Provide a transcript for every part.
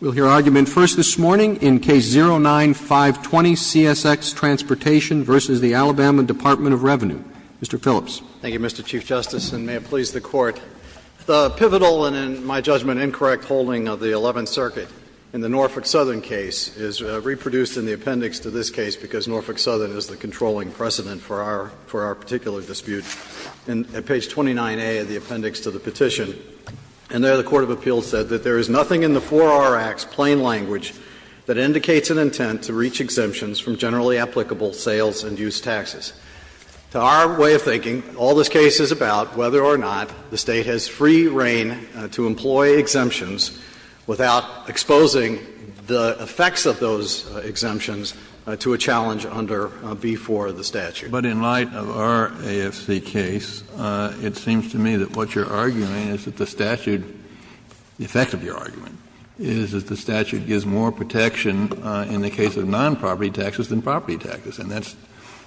Mr. Phillips. Thank you, Mr. Chief Justice, and may it please the Court. The pivotal and in my judgment, incorrect holding of the 11th Circuit in the Norfolk Southern case is reproduced in the appendix to this case because Norfolk Southern is the controlling precedent for our particular dispute. In page 29A of the appendix to the petition, and there the court of appeals said that there is nothing in the 4R Act's plain language that indicates an intent to reach exemptions from generally applicable sales and use taxes. To our way of thinking, all this case is about whether or not the State has free reign to employ exemptions without exposing the effects of those exemptions to a challenge under v. 4 of the statute. Kennedy, but in light of our AFC case, it seems to me that what you're arguing is that the statute, the effect of your argument, is that the statute gives more protection in the case of nonproperty taxes than property taxes. And that's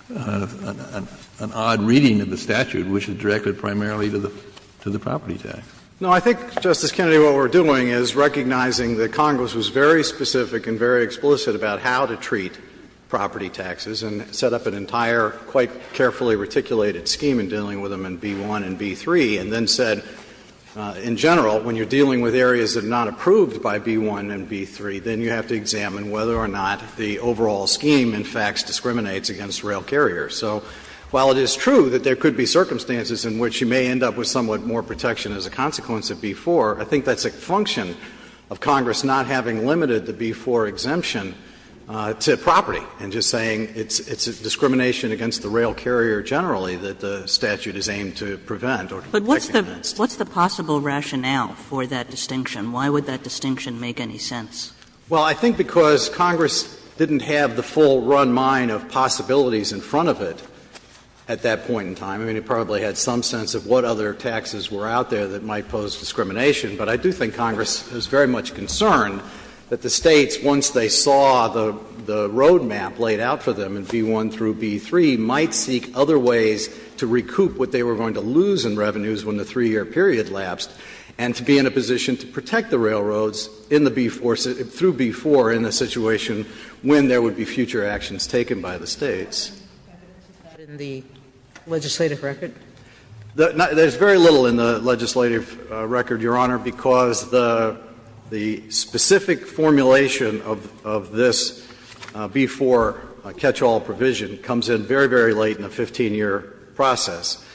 an odd reading of the statute, which is directed primarily to the property tax. No, I think, Justice Kennedy, what we're doing is recognizing that Congress was very specific and very explicit about how to treat property taxes and set up an entire, quite carefully reticulated scheme in dealing with them in B-1 and B-3, and then said, in general, when you're dealing with areas that are not approved by B-1 and B-3, then you have to examine whether or not the overall scheme, in fact, discriminates against rail carriers. So while it is true that there could be circumstances in which you may end up with somewhat more protection as a consequence of B-4, I think that's a function of Congress not having limited the B-4 exemption to property, and just saying it's a discrimination against the rail carrier generally that the statute is aimed to prevent or to protect against. Kagan. But what's the possible rationale for that distinction? Why would that distinction make any sense? Well, I think because Congress didn't have the full run mine of possibilities in front of it at that point in time. I mean, it probably had some sense of what other taxes were out there that might pose discrimination. But I do think Congress is very much concerned that the States, once they saw the road map laid out for them in B-1 through B-3, might seek other ways to recoup what they were going to lose in revenues when the 3-year period lapsed, and to be in a position to protect the railroads in the B-4, through B-4 in a situation when there would be future actions taken by the States. Is that in the legislative record? There's very little in the legislative record, Your Honor, because the specific formulation of this B-4 catch-all provision comes in very, very late in the 15-year process.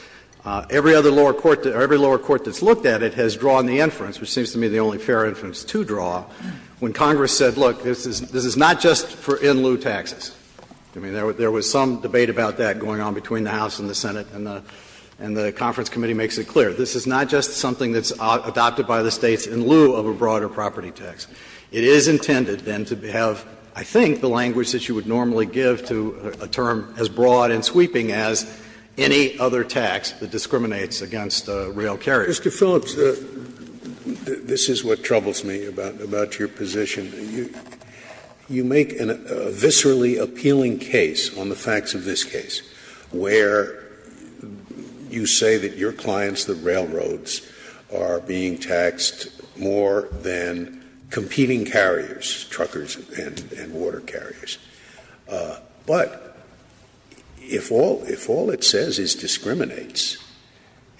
Every other lower court or every lower court that's looked at it has drawn the inference, which seems to me the only fair inference to draw, when Congress said, look, this is not just for in-lieu taxes. I mean, there was some debate about that going on between the House and the Senate and the conference committee makes it clear. This is not just something that's adopted by the States in lieu of a broader property tax. It is intended, then, to have, I think, the language that you would normally give to a term as broad and sweeping as any other tax that discriminates against rail carriers. Scalia. Scalia. Mr. Phillips, this is what troubles me about your position. You make a viscerally appealing case on the facts of this case, where you say that your clients, the railroads, are being taxed more than competing carriers, truckers and water carriers. But if all it says is discriminates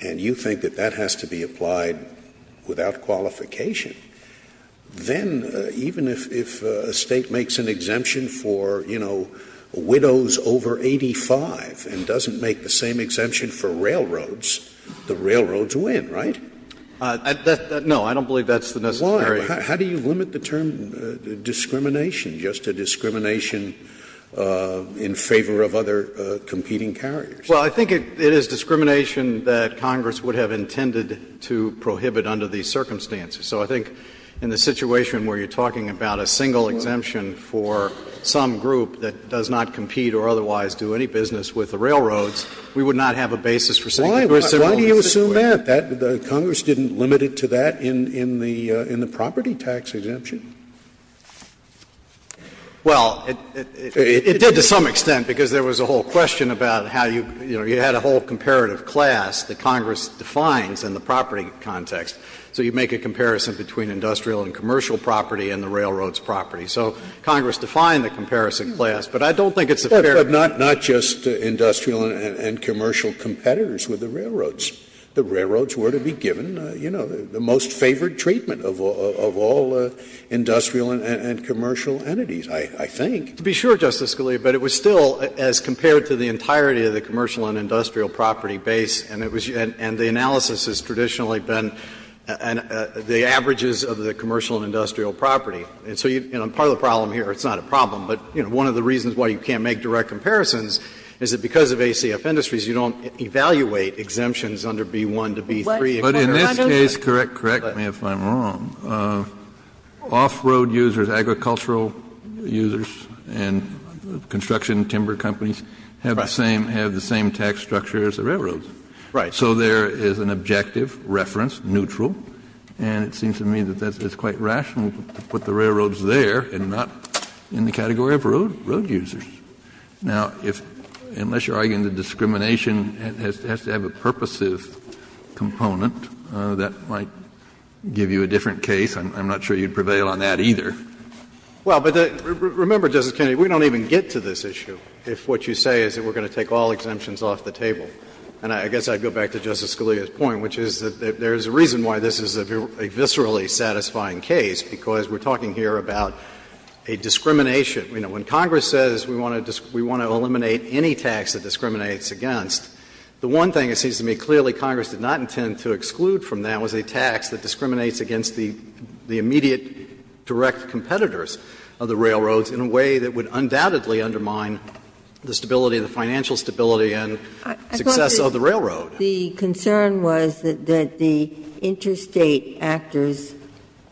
and you think that that has to be applied without qualification, then even if a State makes an exemption for, you know, widows over 85 and doesn't make the same exemption for railroads, the railroads win, right? Phillips. No, I don't believe that's the necessary. Scalia. Why? How do you limit the term discrimination, just a discrimination in favor of other competing carriers? Phillips. Well, I think it is discrimination that Congress would have intended to prohibit under these circumstances. So I think in the situation where you're talking about a single exemption for some group that does not compete or otherwise do any business with the railroads, we would not have a basis for saying that. Scalia. Why do you assume that? Congress didn't limit it to that in the property tax exemption? Phillips. Well, it did to some extent, because there was a whole question about how you, you know, you had a whole comparative class that Congress defines in the property context. So you make a comparison between industrial and commercial property and the railroad's property. So Congress defined the comparison class. But I don't think it's a fair question. Scalia. But not just industrial and commercial competitors with the railroads. The railroads were to be given, you know, the most favored treatment of all industrial and commercial entities, I think. Phillips. To be sure, Justice Scalia, but it was still, as compared to the entirety of the commercial and industrial property base, and the analysis has traditionally been the averages of the commercial and industrial property. And so you know, part of the problem here, it's not a problem, but, you know, one of the reasons why you can't make direct comparisons is that because of ACF industries, you don't evaluate exemptions under B-1 to B-3. Kennedy. But in this case, correct me if I'm wrong, off-road users, agricultural users and construction timber companies have the same tax structure as the railroads. Phillips. Right. So there is an objective reference, neutral, and it seems to me that that's quite rational to put the railroads there and not in the category of road users. Now, unless you're arguing that discrimination has to have a purposive component, that might give you a different case. I'm not sure you'd prevail on that either. Well, but remember, Justice Kennedy, we don't even get to this issue if what you say is that we're going to take all exemptions off the table. And I guess I'd go back to Justice Scalia's point, which is that there is a reason why this is a viscerally satisfying case, because we're talking here about a discrimination. You know, when Congress says we want to eliminate any tax that discriminates against, the one thing it seems to me clearly Congress did not intend to exclude from that was a tax that discriminates against the immediate direct competitors of the railroads in a way that would undoubtedly undermine the stability, the financial stability and success of the railroad. The concern was that the interstate actors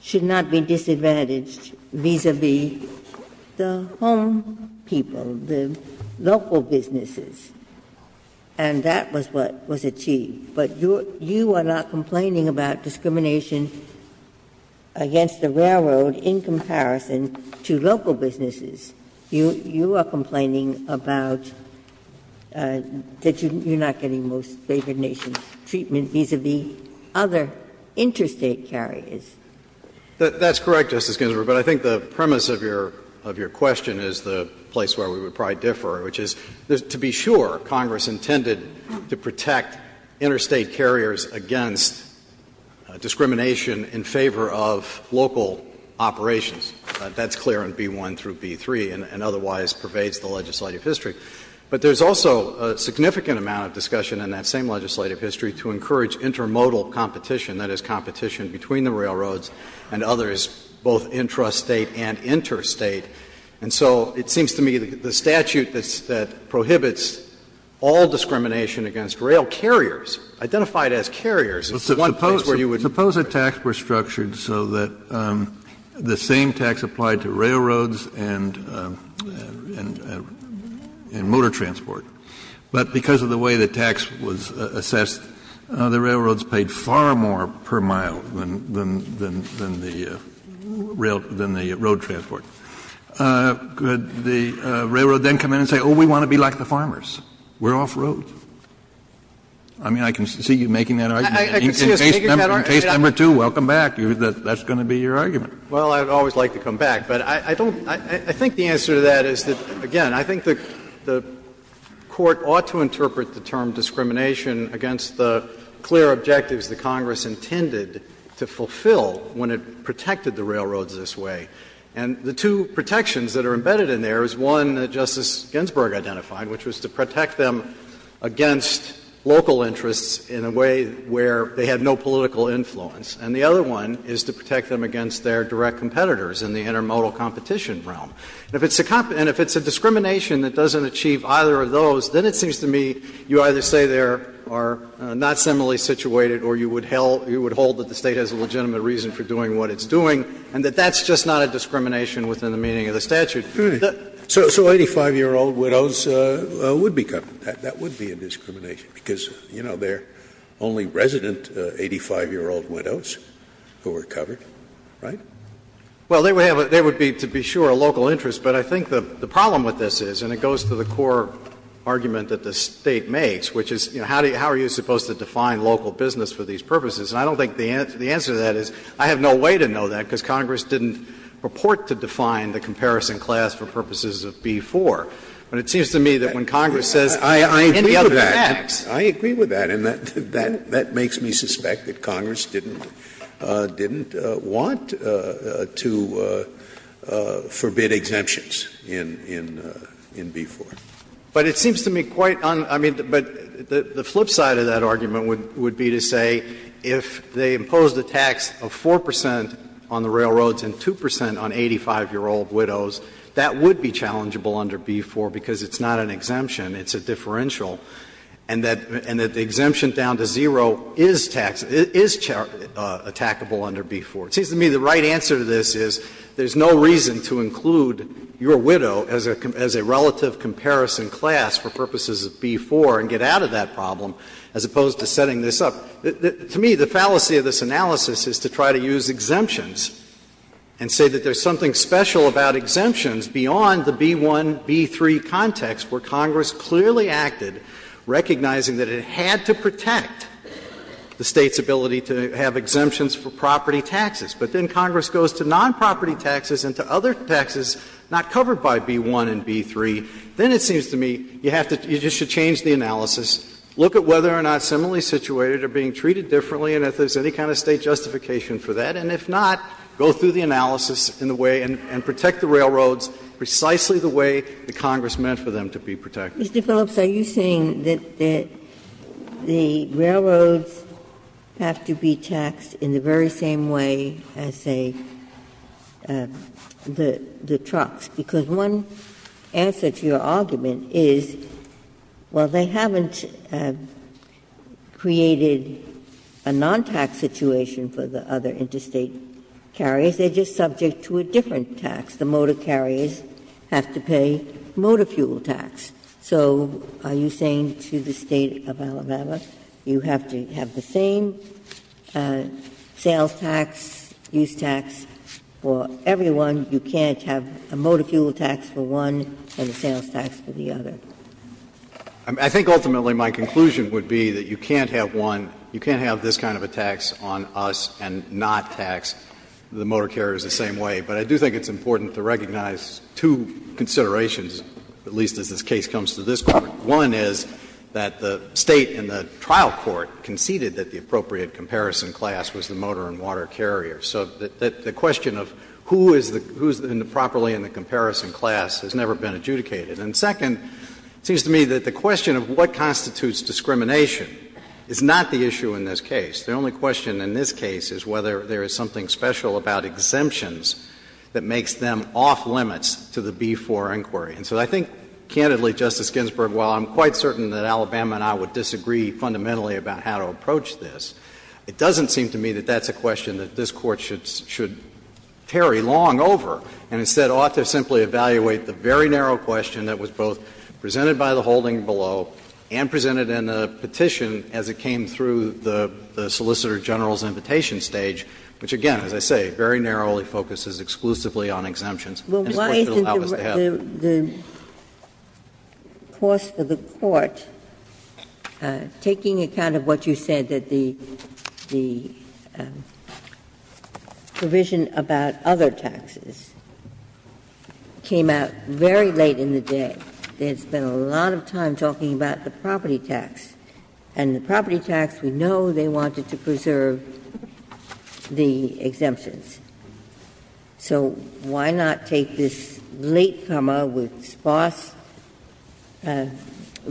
should not be disadvantaged vis-a-vis the home people, the local businesses, and that was what was achieved. But you are not complaining about discrimination against the railroad in comparison to local businesses. You are complaining about that you're not getting most favored nation treatment vis-a-vis other interstate carriers. That's correct, Justice Ginsburg, but I think the premise of your question is the place where we would probably differ, which is to be sure Congress intended to protect interstate carriers against discrimination in favor of local operations. That's clear in B-1 through B-3 and otherwise pervades the legislative history. But there's also a significant amount of discussion in that same legislative history to encourage intermodal competition, that is, competition between the railroads and others, both intrastate and interstate. And so it seems to me the statute that prohibits all discrimination against rail carriers, identified as carriers, is one place where you would differ. Kennedy, suppose a tax were structured so that the same tax applied to railroads and motor transport, but because of the way the tax was assessed, the railroads paid far more per mile than the road transport. Could the railroad then come in and say, oh, we want to be like the farmers, we're off-road? I mean, I can see you making that argument. Case number two, welcome back. That's going to be your argument. Well, I would always like to come back. But I don't think the answer to that is that, again, I think the Court ought to interpret the term discrimination against the clear objectives that Congress intended to fulfill when it protected the railroads this way. And the two protections that are embedded in there is one that Justice Ginsburg identified, which was to protect them against local interests in a way where they had no political influence. And the other one is to protect them against their direct competitors in the intermodal competition realm. And if it's a discrimination that doesn't achieve either of those, then it seems to me you either say they are not similarly situated or you would hold that the State has a legitimate reason for doing what it's doing, and that that's just not a discrimination within the meaning of the statute. Scalia. So 85-year-old widows would be covered. That would be a discrimination, because, you know, they are only resident 85-year-old widows who are covered, right? Well, they would have a ‑‑ they would be, to be sure, a local interest. But I think the problem with this is, and it goes to the core argument that the State makes, which is, you know, how are you supposed to define local business for these purposes? And I don't think the answer to that is I have no way to know that, because Congress didn't purport to define the comparison class for purposes of B-4. But it seems to me that when Congress says, in the other tax ‑‑ Scalia, I agree with that. And that makes me suspect that Congress didn't want to forbid exemptions in B-4. But it seems to me quite un—I mean, but the flip side of that argument would be to say, if they imposed a tax of 4 percent on the railroads and 2 percent on 85-year-old widows, that would be challengeable under B-4, because it's not an exemption, it's a differential, and that the exemption down to zero is taxable, is attackable under B-4. It seems to me the right answer to this is there is no reason to include your widow as a relative comparison class for purposes of B-4 and get out of that problem, as opposed to setting this up. To me, the fallacy of this analysis is to try to use exemptions and say that there's something special about exemptions beyond the B-1, B-3 context, where Congress clearly acted recognizing that it had to protect the State's ability to have exemptions for property taxes. But then Congress goes to nonproperty taxes and to other taxes not covered by B-1 and B-3. Then it seems to me you have to ‑‑ you just should change the analysis, look at whether they are not similarly situated or being treated differently, and if there's any kind of State justification for that, and if not, go through the analysis in a way and protect the railroads precisely the way that Congress meant for them to be protected. Ginsburg. Mr. Phillips, are you saying that the railroads have to be taxed in the very same way as, say, the trucks, because one answer to your argument is, well, they haven't created a non-tax situation for the other interstate carriers. They are just subject to a different tax. The motor carriers have to pay motor fuel tax. So are you saying to the State of Alabama, you have to have the same sales tax, use tax for everyone, you can't have a motor fuel tax for one and a sales tax for the other? I think ultimately my conclusion would be that you can't have one, you can't have this kind of a tax on us and not tax the motor carriers the same way. But I do think it's important to recognize two considerations, at least as this case comes to this Court. One is that the State in the trial court conceded that the appropriate comparison class was the motor and water carrier. So the question of who is the ‑‑ who is properly in the comparison class has never been adjudicated. And second, it seems to me that the question of what constitutes discrimination is not the issue in this case. The only question in this case is whether there is something special about exemptions that makes them off limits to the B4 inquiry. And so I think, candidly, Justice Ginsburg, while I'm quite certain that Alabama and I would disagree fundamentally about how to approach this, it doesn't seem to me that that's a question that this Court should ‑‑ should tarry long over, and instead ought to simply evaluate the very narrow question that was both presented by the holding below and presented in a petition as it came through the solicitor general's invitation stage, which, again, as I say, very narrowly focuses exclusively on exemptions. And this Court should allow us to have it. Ginsburg. Well, why isn't the course of the Court taking account of what you said, that the provision about other taxes came out very late in the day? There's been a lot of time talking about the property tax, and the property tax, we know they wanted to preserve the exemptions. So why not take this latecomer with sparse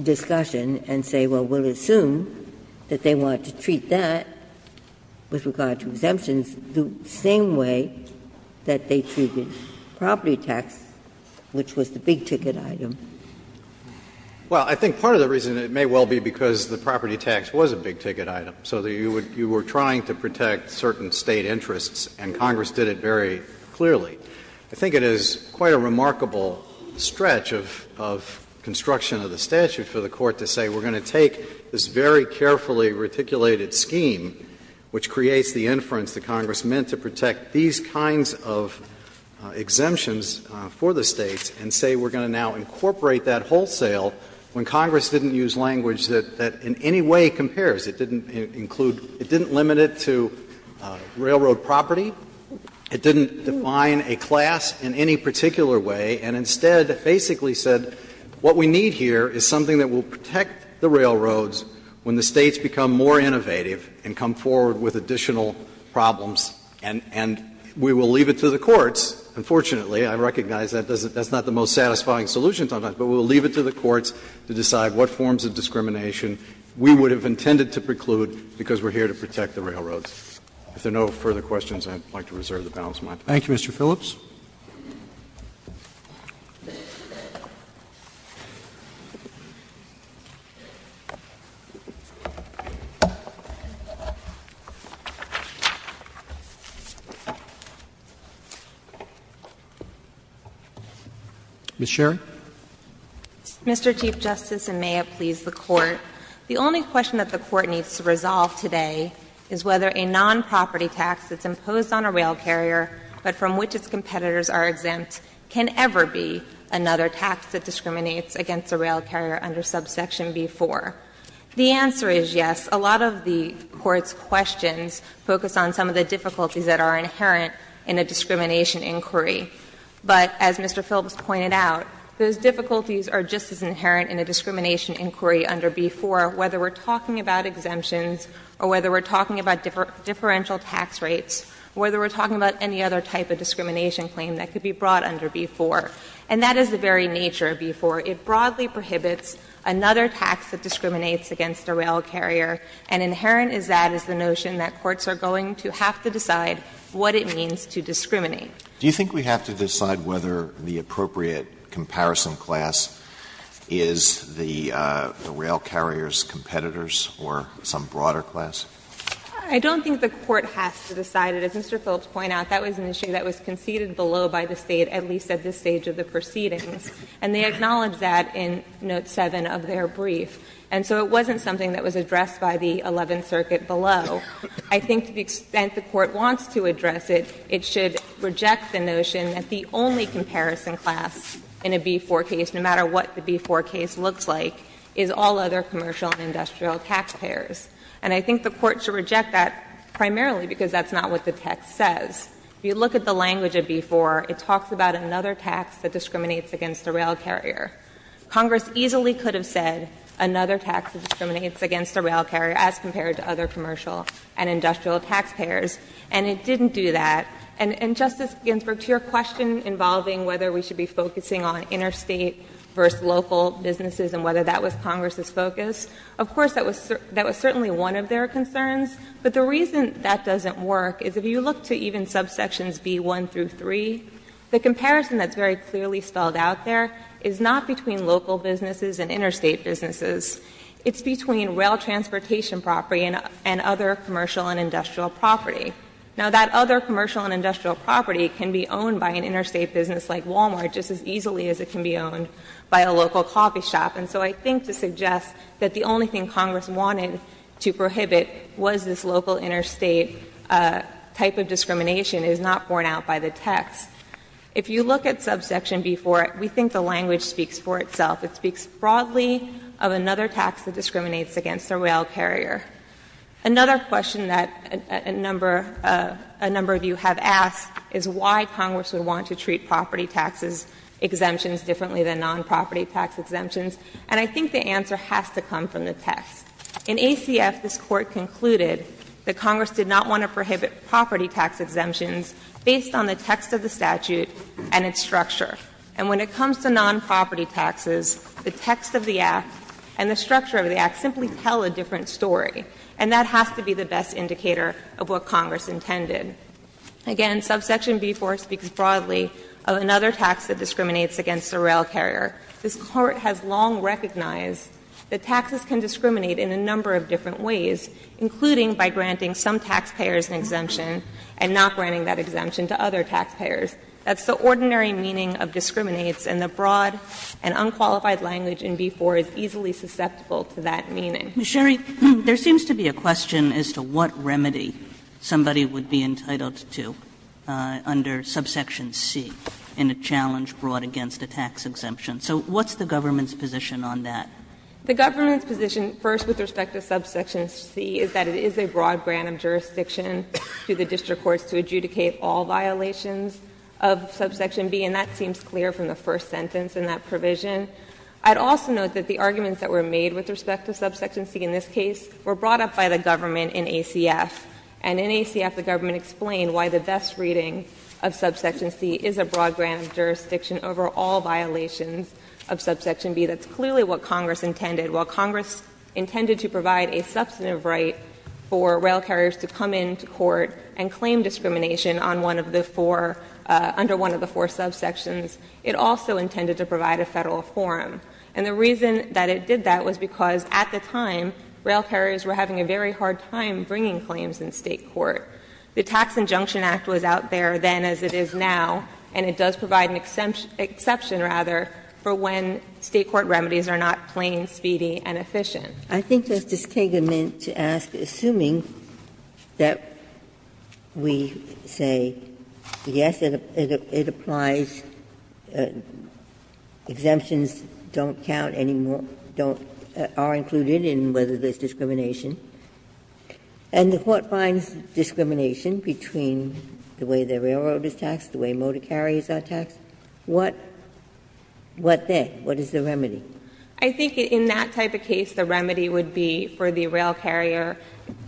discussion and say, well, we'll assume that they want to treat that with regard to exemptions the same way that they treated property tax, which was the big-ticket item? Well, I think part of the reason, it may well be because the property tax was a big-ticket item, so you were trying to protect certain State interests, and Congress did it very clearly. I think it is quite a remarkable stretch of construction of the statute for the Court to say, we're going to take this very carefully reticulated scheme, which creates the inference that Congress meant to protect these kinds of exemptions for the States, and say we're going to now incorporate that wholesale when Congress didn't use language that in any way compares, it didn't include, it didn't limit it to railroad property, it didn't define a class in any particular way, and instead basically said what we need to do here is something that will protect the railroads when the States become more innovative and come forward with additional problems, and we will leave it to the courts. Unfortunately, I recognize that's not the most satisfying solution to that, but we'll leave it to the courts to decide what forms of discrimination we would have intended to preclude because we're here to protect the railroads. If there are no further questions, I'd like to reserve the balance of my time. Thank you, Mr. Phillips. Ms. Sherry. Mr. Chief Justice, and may it please the Court, the only question that the Court needs to resolve today is whether a nonproperty tax that's imposed on a rail carrier, but from which its competitors are exempt, can ever be another tax that discriminates against a rail carrier under subsection B-4. The answer is yes. A lot of the Court's questions focus on some of the difficulties that are inherent in a discrimination inquiry. But as Mr. Phillips pointed out, those difficulties are just as inherent in a discrimination inquiry under B-4, whether we're talking about exemptions or whether we're talking about differential tax rates, whether we're talking about any other type of discrimination claim that could be brought under B-4. And that is the very nature of B-4. It broadly prohibits another tax that discriminates against a rail carrier, and inherent is that is the notion that courts are going to have to decide what it means to discriminate. Alito, do you think we have to decide whether the appropriate comparison class is the rail carrier's competitors or some broader class? I don't think the Court has to decide it. As Mr. Phillips pointed out, that was an issue that was conceded below by the State, at least at this stage of the proceedings. And they acknowledged that in note 7 of their brief. And so it wasn't something that was addressed by the Eleventh Circuit below. So I think to the extent the Court wants to address it, it should reject the notion that the only comparison class in a B-4 case, no matter what the B-4 case looks like, is all other commercial and industrial taxpayers. And I think the Court should reject that primarily because that's not what the text says. If you look at the language of B-4, it talks about another tax that discriminates against a rail carrier. Congress easily could have said another tax that discriminates against a rail carrier as compared to other commercial and industrial taxpayers, and it didn't do that. And, Justice Ginsburg, to your question involving whether we should be focusing on interstate versus local businesses and whether that was Congress's focus, of course that was certainly one of their concerns. But the reason that doesn't work is if you look to even subsections B-1 through 3, the comparison that's very clearly spelled out there is not between local businesses and interstate businesses. It's between rail transportation property and other commercial and industrial property. Now, that other commercial and industrial property can be owned by an interstate business like Walmart just as easily as it can be owned by a local coffee shop. And so I think to suggest that the only thing Congress wanted to prohibit was this local interstate type of discrimination is not borne out by the text. If you look at subsection B-4, we think the language speaks for itself. It speaks broadly of another tax that discriminates against a rail carrier. Another question that a number of you have asked is why Congress would want to treat property taxes exemptions differently than nonproperty tax exemptions, and I think the answer has to come from the text. In ACF, this Court concluded that Congress did not want to prohibit property tax exemptions based on the text of the statute and its structure. And when it comes to nonproperty taxes, the text of the Act and the structure of the Act simply tell a different story, and that has to be the best indicator of what Congress intended. Again, subsection B-4 speaks broadly of another tax that discriminates against a rail carrier. This Court has long recognized that taxes can discriminate in a number of different ways, including by granting some taxpayers an exemption and not granting that exemption to other taxpayers. That's the ordinary meaning of discriminates, and the broad and unqualified language in B-4 is easily susceptible to that meaning. Kagan. Ms. Sherry, there seems to be a question as to what remedy somebody would be entitled to under subsection C in a challenge brought against a tax exemption. So what's the government's position on that? The government's position, first, with respect to subsection C, is that it is a broad grant of jurisdiction to the district courts to adjudicate all violations of subsection B, and that seems clear from the first sentence in that provision. I'd also note that the arguments that were made with respect to subsection C in this case were brought up by the government in ACF, and in ACF the government explained why the best reading of subsection C is a broad grant of jurisdiction over all violations of subsection B. That's clearly what Congress intended. While Congress intended to provide a substantive right for rail carriers to come into court and claim discrimination on one of the four, under one of the four subsections, it also intended to provide a Federal forum. And the reason that it did that was because, at the time, rail carriers were having a very hard time bringing claims in State court. The Tax Injunction Act was out there then as it is now, and it does provide an exception, rather, for when State court remedies are not plain, speedy, and efficient. Ginsburg-Miller, I think Justice Kagan meant to ask, assuming that we say yes, it applies, exemptions don't count anymore, don't are included in whether there's discrimination, and the Court finds discrimination between the way the railroad is taxed, the way motor carriers are taxed. What then? What is the remedy? I think in that type of case, the remedy would be for the rail carrier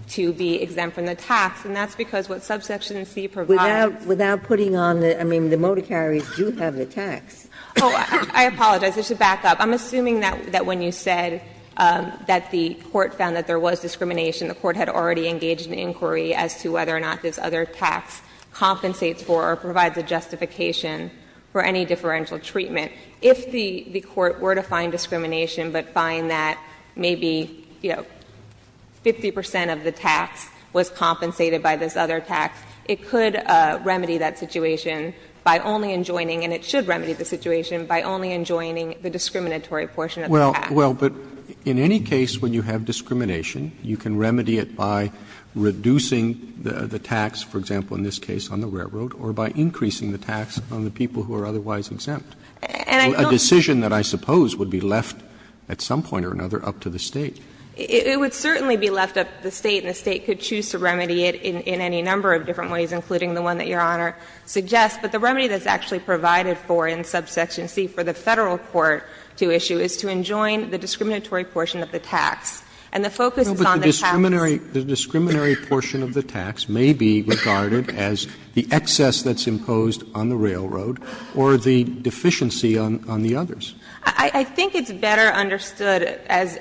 to be exempt from the tax, and that's because what subsection C provides. Without putting on the – I mean, the motor carriers do have the tax. Oh, I apologize. I should back up. I'm assuming that when you said that the court found that there was discrimination, the court had already engaged in inquiry as to whether or not this other tax compensates for or provides a justification for any differential treatment. If the court were to find discrimination but find that maybe, you know, 50 percent of the tax was compensated by this other tax, it could remedy that situation by only enjoining, and it should remedy the situation, by only enjoining the discriminatory portion of the tax. Roberts. Well, but in any case, when you have discrimination, you can remedy it by reducing the tax, for example, in this case on the railroad, or by increasing the tax on the people who are otherwise exempt. A decision that I suppose would be left at some point or another up to the State. It would certainly be left up to the State, and the State could choose to remedy it in any number of different ways, including the one that Your Honor suggests. But the remedy that's actually provided for in subsection C for the Federal court to issue is to enjoin the discriminatory portion of the tax. And the focus is on the tax. Roberts The discriminatory portion of the tax may be regarded as the excess that's imposed on the railroad or the deficiency on the others. I think it's better understood as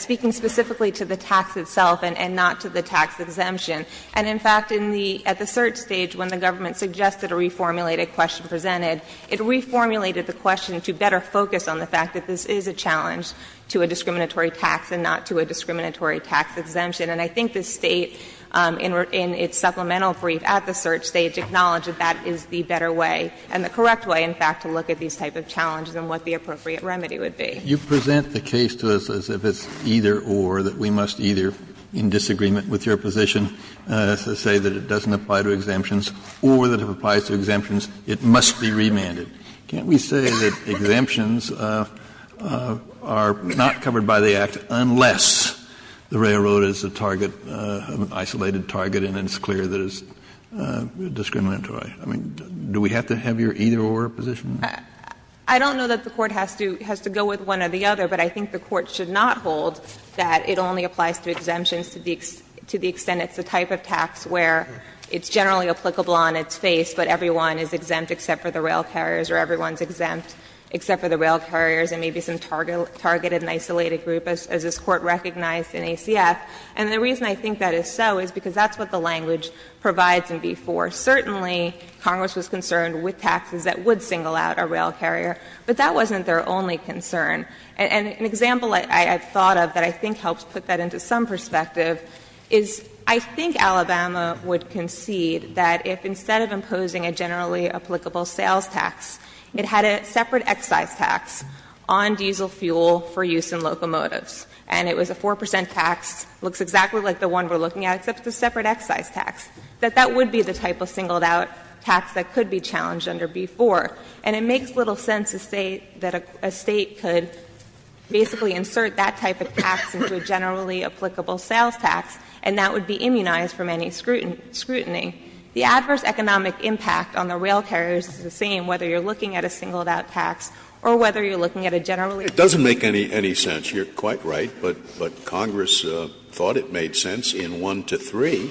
speaking specifically to the tax itself and not to the tax exemption. And in fact, in the at the cert stage, when the government suggested a reformulated question presented, it reformulated the question to better focus on the fact that this is a challenge to a discriminatory tax and not to a discriminatory tax exemption. And I think the State, in its supplemental brief at the cert stage, acknowledged that that is the better way and the correct way, in fact, to look at these type of challenges and what the appropriate remedy would be. Kennedy You present the case to us as if it's either-or, that we must either, in disagreement with your position, say that it doesn't apply to exemptions, or that if it applies to exemptions, it must be remanded. Can't we say that exemptions are not covered by the Act unless the railroad is a target, an isolated target, and it's clear that it's discriminatory? I mean, do we have to have your either-or position? Sherry I don't know that the Court has to go with one or the other, but I think the Court should not hold that it only applies to exemptions to the extent it's a type of tax where it's generally applicable on its face, but everyone is exempt except for the rail carriers, or everyone is exempt except for the rail carriers, and maybe some targeted and isolated group, as this Court recognized in ACF. And the reason I think that is so is because that's what the language provides in v. 4. Certainly, Congress was concerned with taxes that would single out a rail carrier, but that wasn't their only concern. And an example I've thought of that I think helps put that into some perspective is, I think Alabama would concede that if instead of imposing a generally applicable sales tax, it had a separate excise tax on diesel fuel for use in locomotives, and it was a 4 percent tax, looks exactly like the one we're looking at, except it's a separate excise tax, that that would be the type of singled-out tax that could be challenged under v. 4. And it makes little sense to say that a State could basically insert that type of tax into a generally applicable sales tax, and that would be immunized from any scrutiny. The adverse economic impact on the rail carriers is the same, whether you're looking at a singled-out tax or whether you're looking at a generally applicable tax. Scalia. It doesn't make any sense. You're quite right, but Congress thought it made sense in v. 1 to v. 3,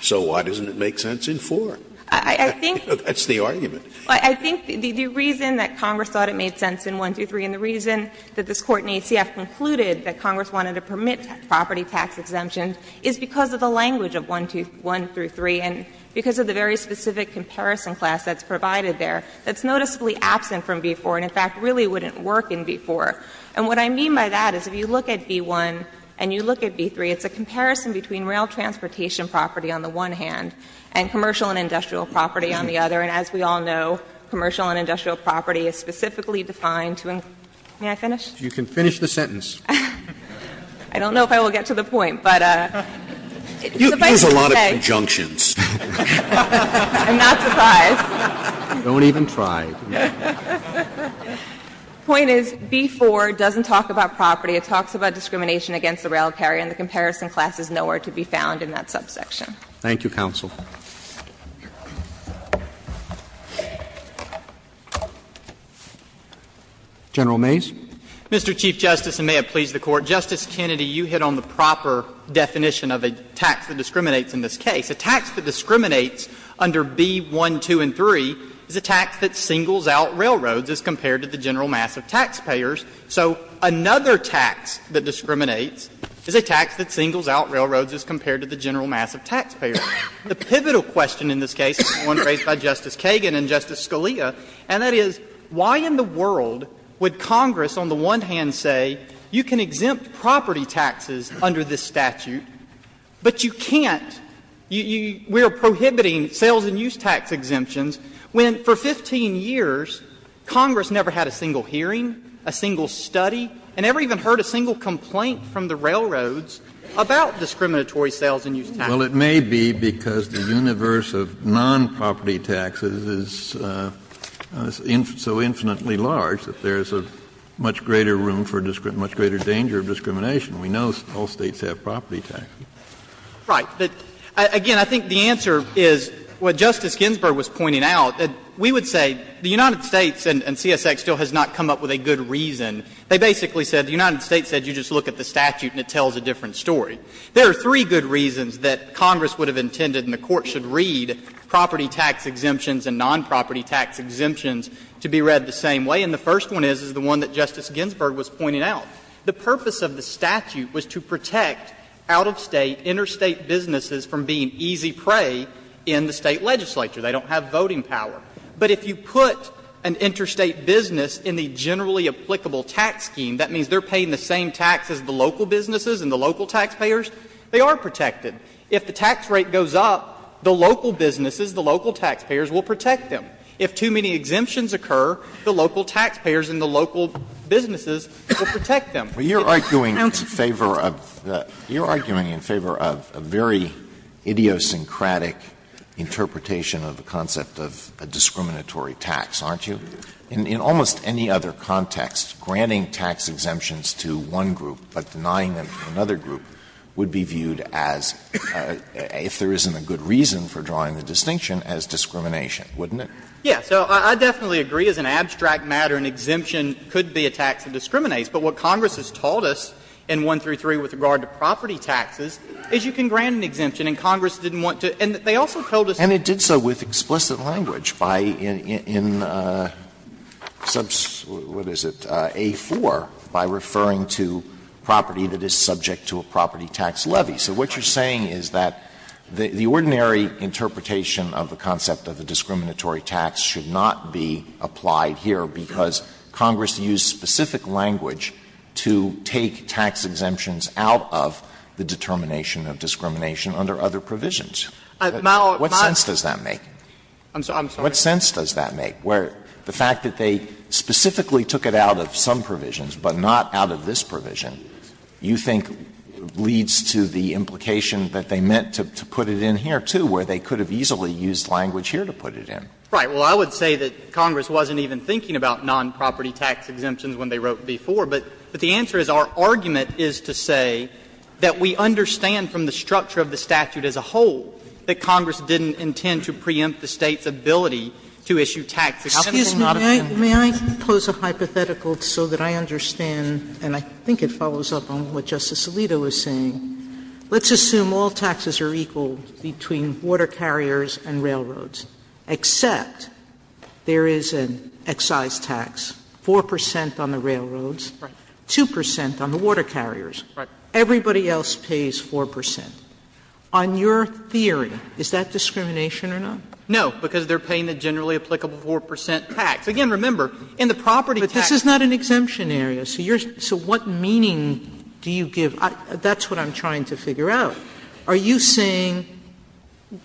so why doesn't it make sense in v. 4? That's the argument. I think the reason that Congress thought it made sense in v. 1 through 3 and the reason that this Court in ACF concluded that Congress wanted to permit property tax exemptions is because of the language of v. 1 through 3 and because of the very specific comparison class that's provided there that's noticeably absent from v. 4 and, in fact, really wouldn't work in v. 4. And what I mean by that is if you look at v. 1 and you look at v. 3, it's a comparison between rail transportation property on the one hand and commercial and industrial property on the other. And as we all know, commercial and industrial property is specifically defined to encourage the use of a single-use tax. May I finish? You can finish the sentence. I don't know if I will get to the point, but if I could say the point is v. 4 doesn't talk about property. It talks about discrimination against the rail carrier, and the comparison class is nowhere to be found in that subsection. Thank you, counsel. General Mays. Mr. Chief Justice, and may it please the Court, Justice Kennedy, you hit on the proper definition of a tax that discriminates in this case. A tax that discriminates under v. 1, 2, and 3 is a tax that singles out railroads as compared to the general mass of taxpayers. So another tax that discriminates is a tax that singles out railroads as compared to the general mass of taxpayers. The pivotal question in this case is one raised by Justice Kagan and Justice Scalia, and that is, why in the world would Congress on the one hand say, you can exempt property taxes under this statute, but you can't, we are prohibiting sales and use tax exemptions, when for 15 years Congress never had a single hearing, a single study, and never even heard a single complaint from the railroads about discriminatory sales and use taxes? Well, it may be because the universe of non-property taxes is so infinitely large that there is a much greater room for a much greater danger of discrimination. We know all States have property taxes. Right. But, again, I think the answer is what Justice Ginsburg was pointing out. We would say the United States, and CSX still has not come up with a good reason, they basically said the United States said you just look at the statute and it tells a different story. There are three good reasons that Congress would have intended and the Court should read property tax exemptions and non-property tax exemptions to be read the same way, and the first one is, is the one that Justice Ginsburg was pointing out. The purpose of the statute was to protect out-of-State, interstate businesses from being easy prey in the State legislature. They don't have voting power. But if you put an interstate business in the generally applicable tax scheme, that means they are paying the same tax as the local businesses and the local taxpayers they are protected. If the tax rate goes up, the local businesses, the local taxpayers will protect them. If too many exemptions occur, the local taxpayers and the local businesses will protect them. Alito, you are arguing in favor of a very idiosyncratic interpretation of the concept of a discriminatory tax, aren't you? In almost any other context, granting tax exemptions to one group but denying them to another group would be viewed as, if there isn't a good reason for drawing the distinction, as discrimination, wouldn't it? Yeah. So I definitely agree, as an abstract matter, an exemption could be a tax that discriminates. But what Congress has taught us in 1 through 3 with regard to property taxes is you can grant an exemption, and Congress didn't want to, and they also told us. And it did so with explicit language by in, what is it, A-4, by referring to property that is subject to a property tax levy. So what you are saying is that the ordinary interpretation of the concept of a discriminatory tax should not be applied here because Congress used specific language to take tax exemptions out of the determination of discrimination under other provisions. What sense does that make? What sense does that make, where the fact that they specifically took it out of some provisions, but not out of this provision, you think leads to the implication that they meant to put it in here, too, where they could have easily used language here to put it in? Right. Well, I would say that Congress wasn't even thinking about nonproperty tax exemptions when they wrote B-4. But the answer is our argument is to say that we understand from the structure of the statute as a whole that Congress didn't intend to preempt the State's ability to issue tax exemptions. Sotomayor, may I pose a hypothetical so that I understand, and I think it follows up on what Justice Alito was saying. Let's assume all taxes are equal between water carriers and railroads, except there is an excise tax, 4 percent on the railroads, 2 percent on the water carriers. Right. Everybody else pays 4 percent. On your theory, is that discrimination or not? No, because they are paying the generally applicable 4 percent tax. Again, remember, in the property tax. But this is not an exemption area. So what meaning do you give? That's what I'm trying to figure out. Are you saying,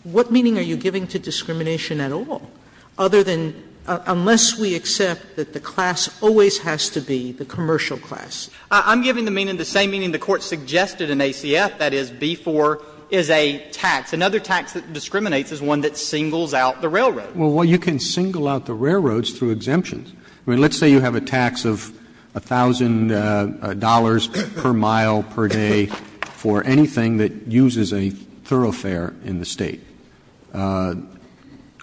what meaning are you giving to discrimination at all, other than unless we accept that the class always has to be the commercial class? I'm giving the meaning, the same meaning the Court suggested in ACF, that is, B-4 is a tax. Another tax that discriminates is one that singles out the railroads. Well, you can single out the railroads through exemptions. I mean, let's say you have a tax of $1,000 per mile per day for anything that uses a thoroughfare in the State.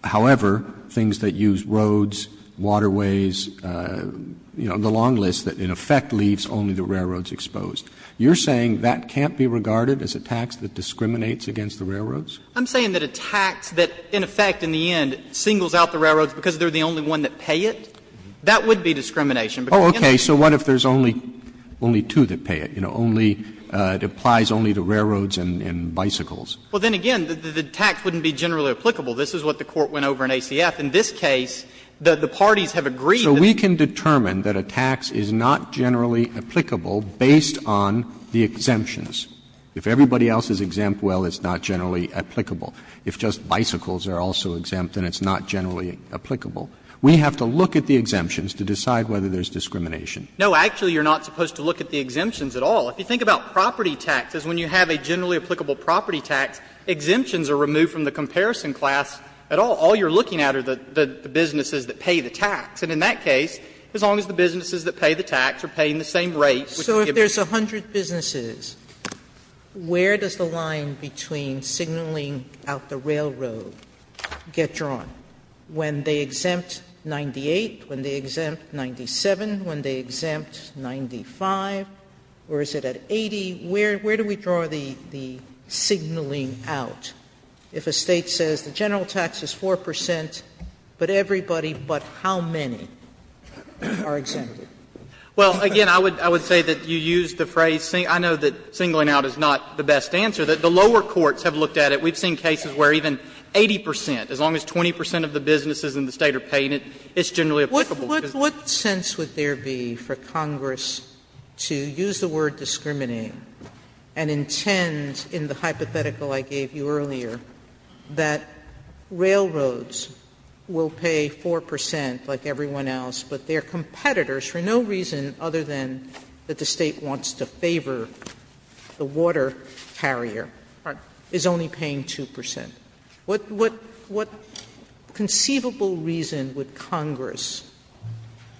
However, things that use roads, waterways, you know, the long list that in effect leaves only the railroads exposed. You're saying that can't be regarded as a tax that discriminates against the railroads? I'm saying that a tax that in effect in the end singles out the railroads because they're the only one that pay it, that would be discrimination. Oh, okay. So what if there's only two that pay it? You know, only, it applies only to railroads and bicycles. Well, then again, the tax wouldn't be generally applicable. This is what the Court went over in ACF. In this case, the parties have agreed that there's a tax that is not generally applicable based on the exemptions. If everybody else is exempt, well, it's not generally applicable. If just bicycles are also exempt, then it's not generally applicable. We have to look at the exemptions to decide whether there's discrimination. No, actually, you're not supposed to look at the exemptions at all. If you think about property taxes, when you have a generally applicable property tax, exemptions are removed from the comparison class at all. All you're looking at are the businesses that pay the tax. And in that case, as long as the businesses that pay the tax are paying the same rate, which would give them the same rate. Sotomayor So if there's a hundred businesses, where does the line between signaling out the railroad get drawn? When they exempt 98, when they exempt 97, when they exempt 95, or is it at 80? Where do we draw the signaling out if a State says the general tax is 4 percent, but everybody but how many are exempted? Well, again, I would say that you use the phrase, I know that signaling out is not the best answer, that the lower courts have looked at it. We've seen cases where even 80 percent, as long as 20 percent of the businesses in the State are paying it, it's generally applicable. Sotomayor What sense would there be for Congress to use the word discriminating and intend, in the hypothetical I gave you earlier, that railroads will pay 4 percent like everyone else, but their competitors, for no reason other than that the State wants to favor the water carrier, is only paying 2 percent? What conceivable reason would Congress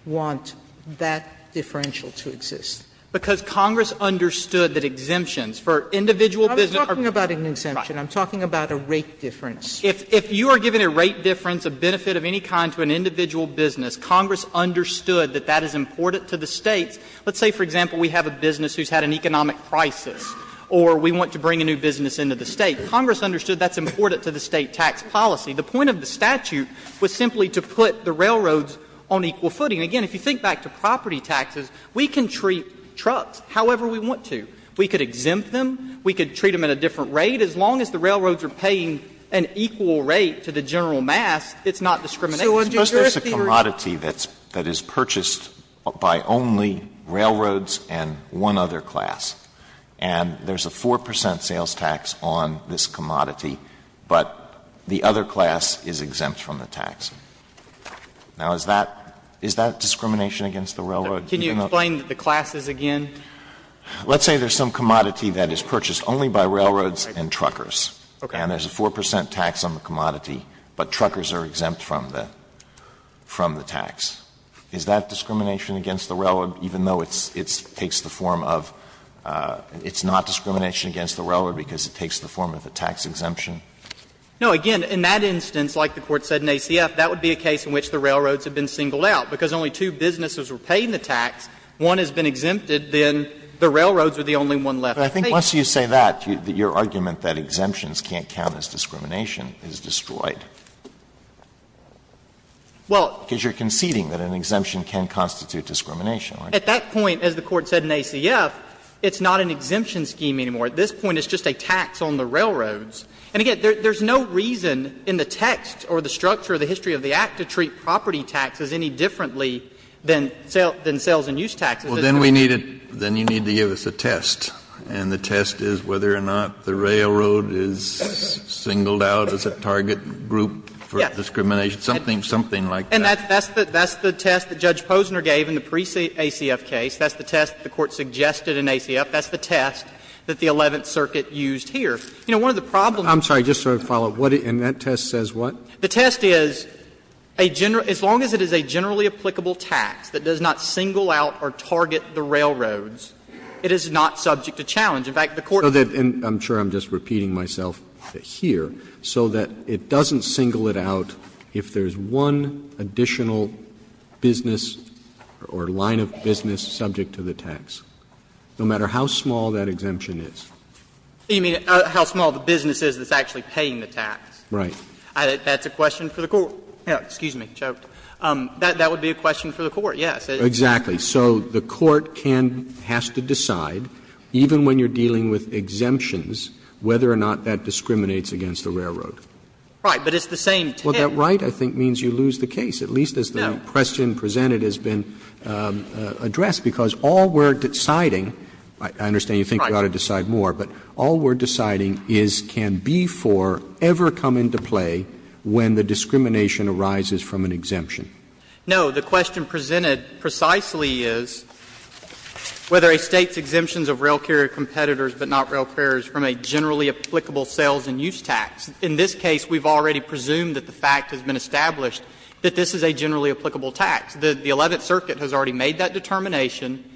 want that differential to exist? Because Congress understood that exemptions for individual business are I'm not talking about an exemption. I'm talking about a rate difference. If you are giving a rate difference, a benefit of any kind, to an individual business, Congress understood that that is important to the States. Let's say, for example, we have a business who has had an economic crisis or we want to bring a new business into the State. Congress understood that's important to the State tax policy. The point of the statute was simply to put the railroads on equal footing. Again, if you think back to property taxes, we can treat trucks however we want to. We could exempt them. We could treat them at a different rate. As long as the railroads are paying an equal rate to the general mass, it's not discriminating. Alito Suppose there is a commodity that is purchased by only railroads and one other class, and there is a 4 percent sales tax on this commodity, but the other class is exempt from the tax. Now, is that discrimination against the railroad? Can you explain the classes again? Let's say there is some commodity that is purchased only by railroads and truckers. Okay. And there is a 4 percent tax on the commodity, but truckers are exempt from the tax. Is that discrimination against the railroad, even though it takes the form of – it's not discrimination against the railroad because it takes the form of a tax exemption? No. Again, in that instance, like the Court said in ACF, that would be a case in which the railroads have been singled out. Because only two businesses were paying the tax, one has been exempted, then the railroads are the only one left. Alito But I think once you say that, your argument that exemptions can't count as discrimination is destroyed. Because you are conceding that an exemption can constitute discrimination, aren't you? At that point, as the Court said in ACF, it's not an exemption scheme anymore. At this point, it's just a tax on the railroads. And again, there's no reason in the text or the structure of the history of the Act to treat property taxes any differently than sales and use taxes. Kennedy Well, then we need to – then you need to give us a test. And the test is whether or not the railroad is singled out as a target group for discrimination. Something like that. And that's the test that Judge Posner gave in the pre-ACF case. That's the test the Court suggested in ACF. That's the test that the Eleventh Circuit used here. You know, one of the problems Roberts I'm sorry. Just sort of follow up. What – and that test says what? Kennedy The test is a general – as long as it is a generally applicable tax that does not single out or target the railroads, it is not subject to challenge. In fact, the Court Roberts So that – and I'm sure I'm just repeating myself here. So that it doesn't single it out if there's one additional business or line of business subject to the tax, no matter how small that exemption is. You mean how small the business is that's actually paying the tax. Roberts Right. Kennedy That's a question for the Court. Excuse me. Joked. That would be a question for the Court, yes. Roberts Exactly. So the Court can – has to decide, even when you're dealing with exemptions, whether or not that discriminates against the railroad. Kennedy Right. But it's the same thing. Roberts Well, that right, I think, means you lose the case, at least as the question presented has been addressed. Because all we're deciding – I understand you think we ought to decide more. But all we're deciding is, can B-4 ever come into play when the discrimination arises from an exemption? Kennedy No. The question presented precisely is whether a State's exemptions of rail carrier competitors, but not rail carriers, from a generally applicable sales and use tax. In this case, we've already presumed that the fact has been established that this is a generally applicable tax. The Eleventh Circuit has already made that determination.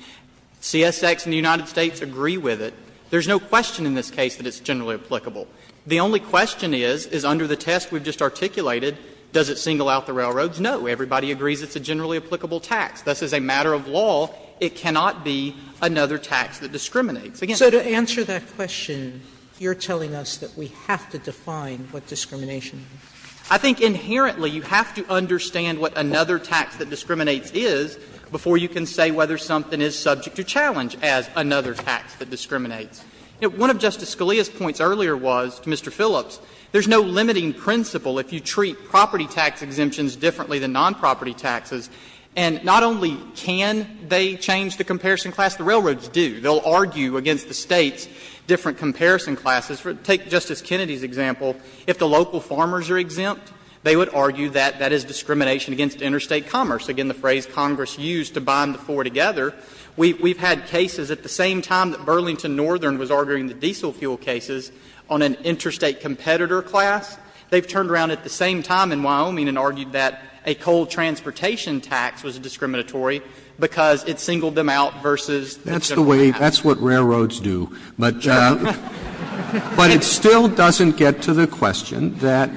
CSX and the United States agree with it. There's no question in this case that it's generally applicable. The only question is, is under the test we've just articulated, does it single out the railroads? No. Everybody agrees it's a generally applicable tax. Thus, as a matter of law, it cannot be another tax that discriminates. Again, I think that's the question. Sotomayor So to answer that question, you're telling us that we have to define what discrimination is. Kennedy I think inherently you have to understand what another tax that discriminates is before you can say whether something is subject to challenge as another tax that discriminates. One of Justice Scalia's points earlier was, to Mr. Phillips, there's no limiting principle if you treat property tax exemptions differently than nonproperty taxes. And not only can they change the comparison class, the railroads do. They'll argue against the States' different comparison classes. Take Justice Kennedy's example. If the local farmers are exempt, they would argue that that is discrimination against interstate commerce, again, the phrase Congress used to bind the four together. We've had cases at the same time that Burlington Northern was arguing the diesel fuel cases on an interstate competitor class. They've turned around at the same time in Wyoming and argued that a coal transportation tax was discriminatory because it singled them out versus the general tax. Roberts That's the way — that's what railroads do. But it still doesn't get to the question that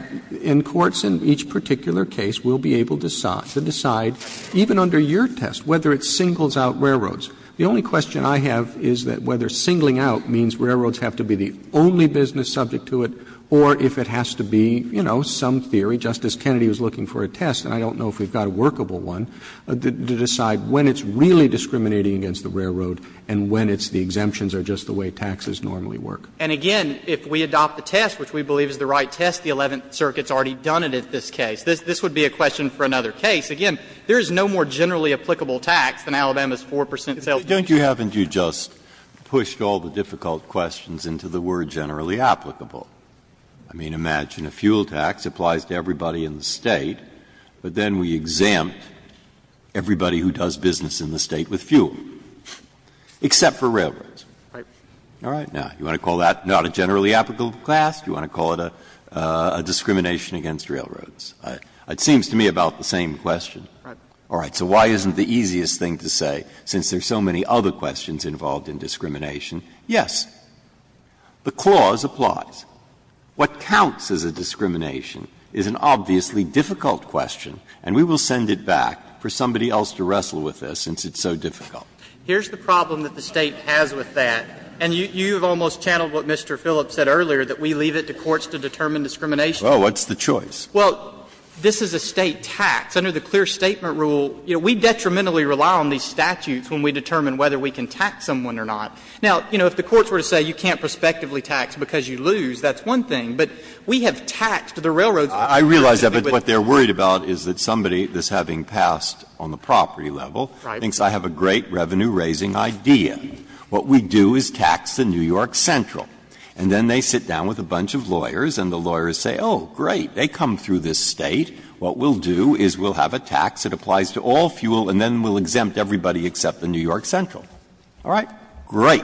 in courts in each particular case, we'll be able to decide, even under your test, whether it singles out railroads The only question I have is that whether singling out means railroads have to be the only business subject to it, or if it has to be, you know, some theory, Justice Kennedy was looking for a test, and I don't know if we've got a workable one, to decide when it's really discriminating against the railroad and when it's the exemptions are just the way taxes normally work. And, again, if we adopt the test, which we believe is the right test, the Eleventh Circuit's already done it at this case. This would be a question for another case. Again, there is no more generally applicable tax than Alabama's 4 percent sales tax. Breyer Don't you happen to have just pushed all the difficult questions into the word generally applicable? I mean, imagine a fuel tax applies to everybody in the State, but then we exempt everybody who does business in the State with fuel, except for railroads. All right? Now, you want to call that not a generally applicable class? Do you want to call it a discrimination against railroads? It seems to me about the same question. All right. So why isn't the easiest thing to say, since there are so many other questions involved in discrimination? Yes, the clause applies. What counts as a discrimination is an obviously difficult question, and we will send it back for somebody else to wrestle with this, since it's so difficult. Here's the problem that the State has with that, and you've almost channeled what Mr. Phillips said earlier, that we leave it to courts to determine discrimination. Well, what's the choice? Well, this is a State tax. Under the clear statement rule, you know, we detrimentally rely on these statutes when we determine whether we can tax someone or not. Now, you know, if the courts were to say you can't prospectively tax because you lose, that's one thing. But we have taxed the railroads. I realize that, but what they're worried about is that somebody that's having passed on the property level thinks I have a great revenue-raising idea. What we do is tax the New York Central, and then they sit down with a bunch of lawyers and the lawyers say, oh, great, they come through this State, what we'll do is we'll have a tax that applies to all fuel, and then we'll exempt everybody except the New York Central, all right? Great.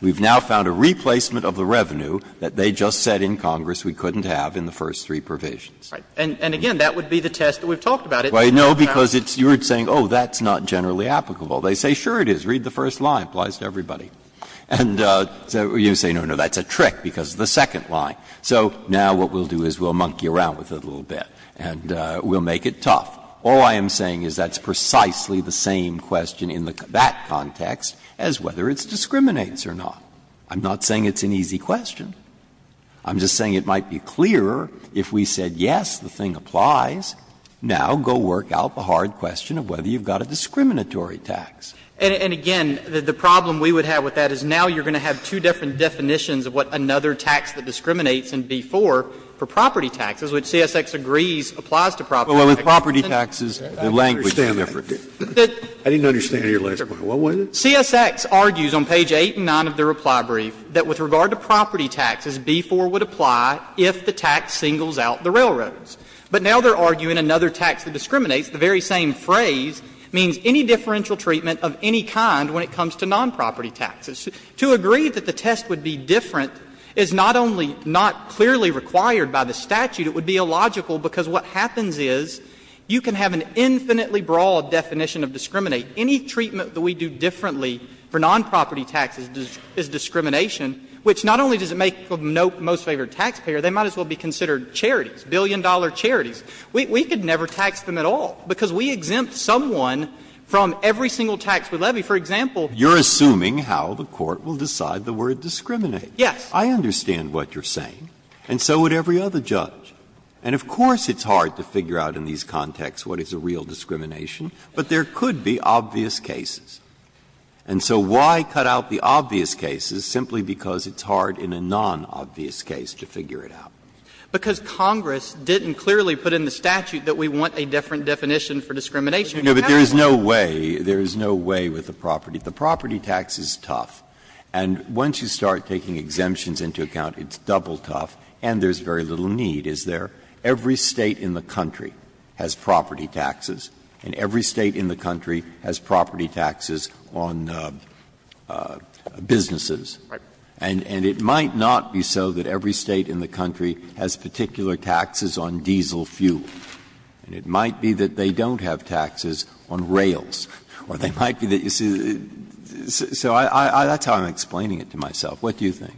We've now found a replacement of the revenue that they just said in Congress we couldn't have in the first three provisions. Right. And again, that would be the test that we've talked about. Well, no, because it's you're saying, oh, that's not generally applicable. They say, sure it is, read the first line, applies to everybody. And so you say, no, no, that's a trick because it's the second line. So now what we'll do is we'll monkey around with it a little bit, and we'll make it tough. All I am saying is that's precisely the same question in that context as whether it discriminates or not. I'm not saying it's an easy question. I'm just saying it might be clearer if we said, yes, the thing applies, now go work out the hard question of whether you've got a discriminatory tax. And, again, the problem we would have with that is now you're going to have two different definitions of what another tax that discriminates in B-4 for property taxes, which CSX agrees applies to property taxes. Scalia. Well, with property taxes, the language is different. I didn't understand your last point. What was it? CSX argues on page 8 and 9 of their reply brief that with regard to property taxes, B-4 would apply if the tax singles out the railroads. But now they're arguing another tax that discriminates, the very same phrase, means any differential treatment of any kind when it comes to nonproperty taxes. To agree that the test would be different is not only not clearly required by the statute, it would be illogical, because what happens is you can have an infinitely broad definition of discriminate. Any treatment that we do differently for nonproperty taxes is discrimination, which not only does it make the most favored taxpayer, they might as well be considered charities, billion-dollar charities. We could never tax them at all, because we exempt someone from every single tax we levy. For example. Breyer, you're assuming how the Court will decide the word discriminate. Yes. I understand what you're saying, and so would every other judge. And of course it's hard to figure out in these contexts what is a real discrimination, but there could be obvious cases. And so why cut out the obvious cases simply because it's hard in a nonobvious case to figure it out? Because Congress didn't clearly put in the statute that we want a different definition for discrimination. Breyer, no, but there is no way, there is no way with the property. The property tax is tough, and once you start taking exemptions into account, it's double tough, and there's very little need, is there? Every State in the country has property taxes, and every State in the country has property taxes on businesses, and it might not be so that every State in the country has particular taxes on diesel fuel. And it might be that they don't have taxes on rails, or they might be that you see the so I that's how I'm explaining it to myself. What do you think?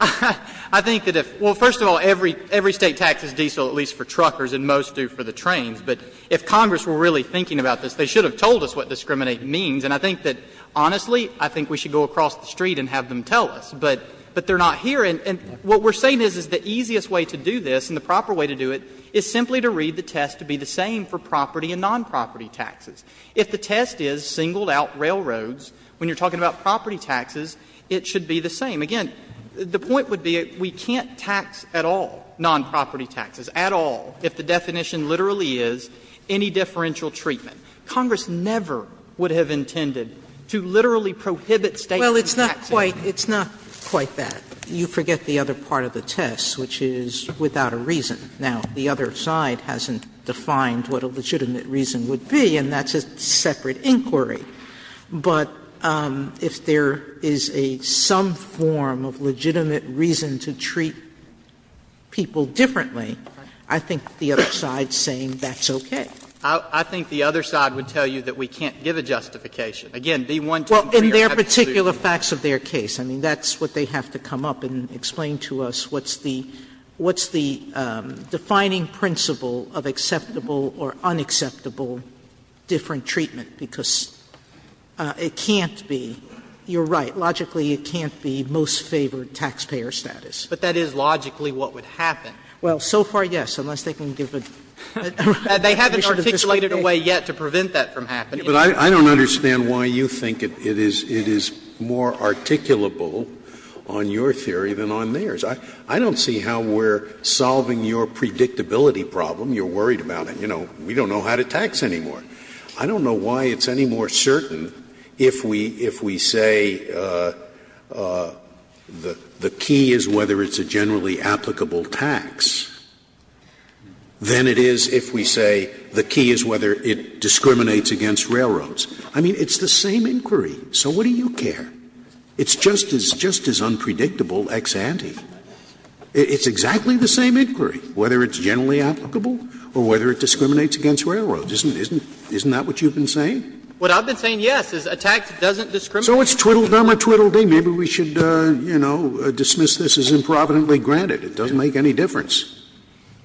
I think that if well, first of all, every every State taxes diesel at least for truckers and most do for the trains. But if Congress were really thinking about this, they should have told us what discriminate means. And I think that, honestly, I think we should go across the street and have them tell us, but but they're not here. And what we're saying is, is the easiest way to do this and the proper way to do it is simply to read the test to be the same for property and nonproperty taxes. If the test is singled out railroads, when you're talking about property taxes, it should be the same. Again, the point would be we can't tax at all nonproperty taxes, at all, if the definition literally is any differential treatment. Congress never would have intended to literally prohibit States from taxing. Sotomayor Well, it's not quite it's not quite that. You forget the other part of the test, which is without a reason. Now, the other side hasn't defined what a legitimate reason would be, and that's a separate inquiry. But if there is a some form of legitimate reason to treat people differently, I think the other side's saying that's okay. I think the other side would tell you that we can't give a justification. Again, the one time we are having to do this is not fair. Sotomayor Well, in their particular facts of their case. I mean, that's what they have to come up and explain to us what's the what's the defining principle of acceptable or unacceptable different treatment, because it can't be, you're right, logically it can't be most favored taxpayer status. But that is logically what would happen. Sotomayor Well, so far, yes, unless they can give a definition of this way. They haven't articulated a way yet to prevent that from happening. Scalia But I don't understand why you think it is it is more articulable on your theory than on theirs. I don't see how we're solving your predictability problem. You're worried about it. You know, we don't know how to tax anymore. I don't know why it's any more certain if we if we say the the key is whether it's a generally applicable tax than it is if we say the key is whether it discriminates against railroads. I mean, it's the same inquiry. It's just as just as unpredictable ex ante. It's exactly the same inquiry, whether it's generally applicable or whether it discriminates against railroads. Isn't isn't isn't that what you've been saying? What I've been saying, yes, is a tax doesn't discriminate. So it's twiddle-dum or twiddle-dee. Maybe we should, you know, dismiss this as improvidently granted. It doesn't make any difference.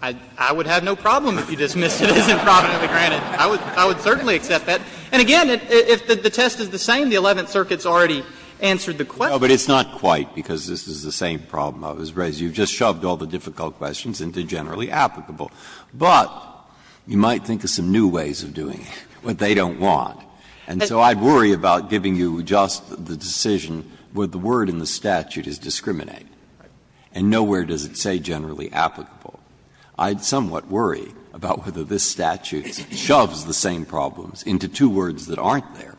I would have no problem if you dismissed it as improvidently granted. I would I would certainly accept that. And again, if the test is the same, the Eleventh Circuit's already answered the question. Breyer, but it's not quite, because this is the same problem I was raising. You've just shoved all the difficult questions into generally applicable. But you might think of some new ways of doing it, what they don't want. And so I'd worry about giving you just the decision where the word in the statute is discriminate. And nowhere does it say generally applicable. I'd somewhat worry about whether this statute shoves the same problems into two words that aren't there,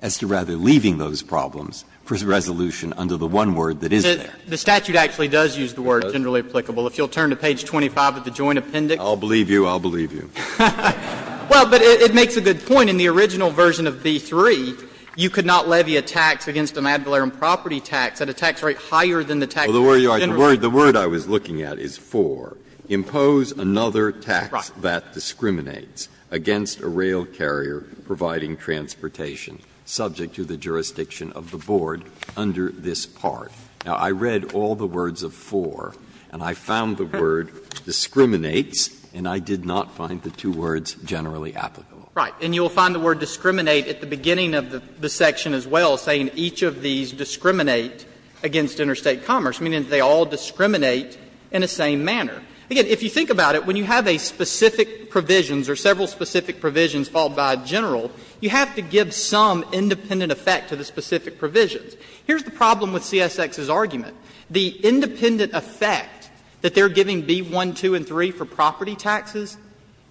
as to rather leaving those problems for resolution under the one word that is there. The statute actually does use the word generally applicable. If you'll turn to page 25 of the Joint Appendix. I'll believe you, I'll believe you. Well, but it makes a good point. In the original version of v. 3, you could not levy a tax against an ad valorem property tax at a tax rate higher than the tax rate generally. The word I was looking at is 4, impose another tax that discriminates against a rail carrier providing transportation subject to the jurisdiction of the board under this part. Now, I read all the words of 4, and I found the word discriminates, and I did not find the two words generally applicable. Right. And you'll find the word discriminate at the beginning of the section as well, saying each of these discriminate against interstate commerce, meaning that they all discriminate in the same manner. Again, if you think about it, when you have a specific provisions or several specific provisions followed by a general, you have to give some independent effect to the specific provisions. Here's the problem with CSX's argument. The independent effect that they're giving v. 1, 2, and 3 for property taxes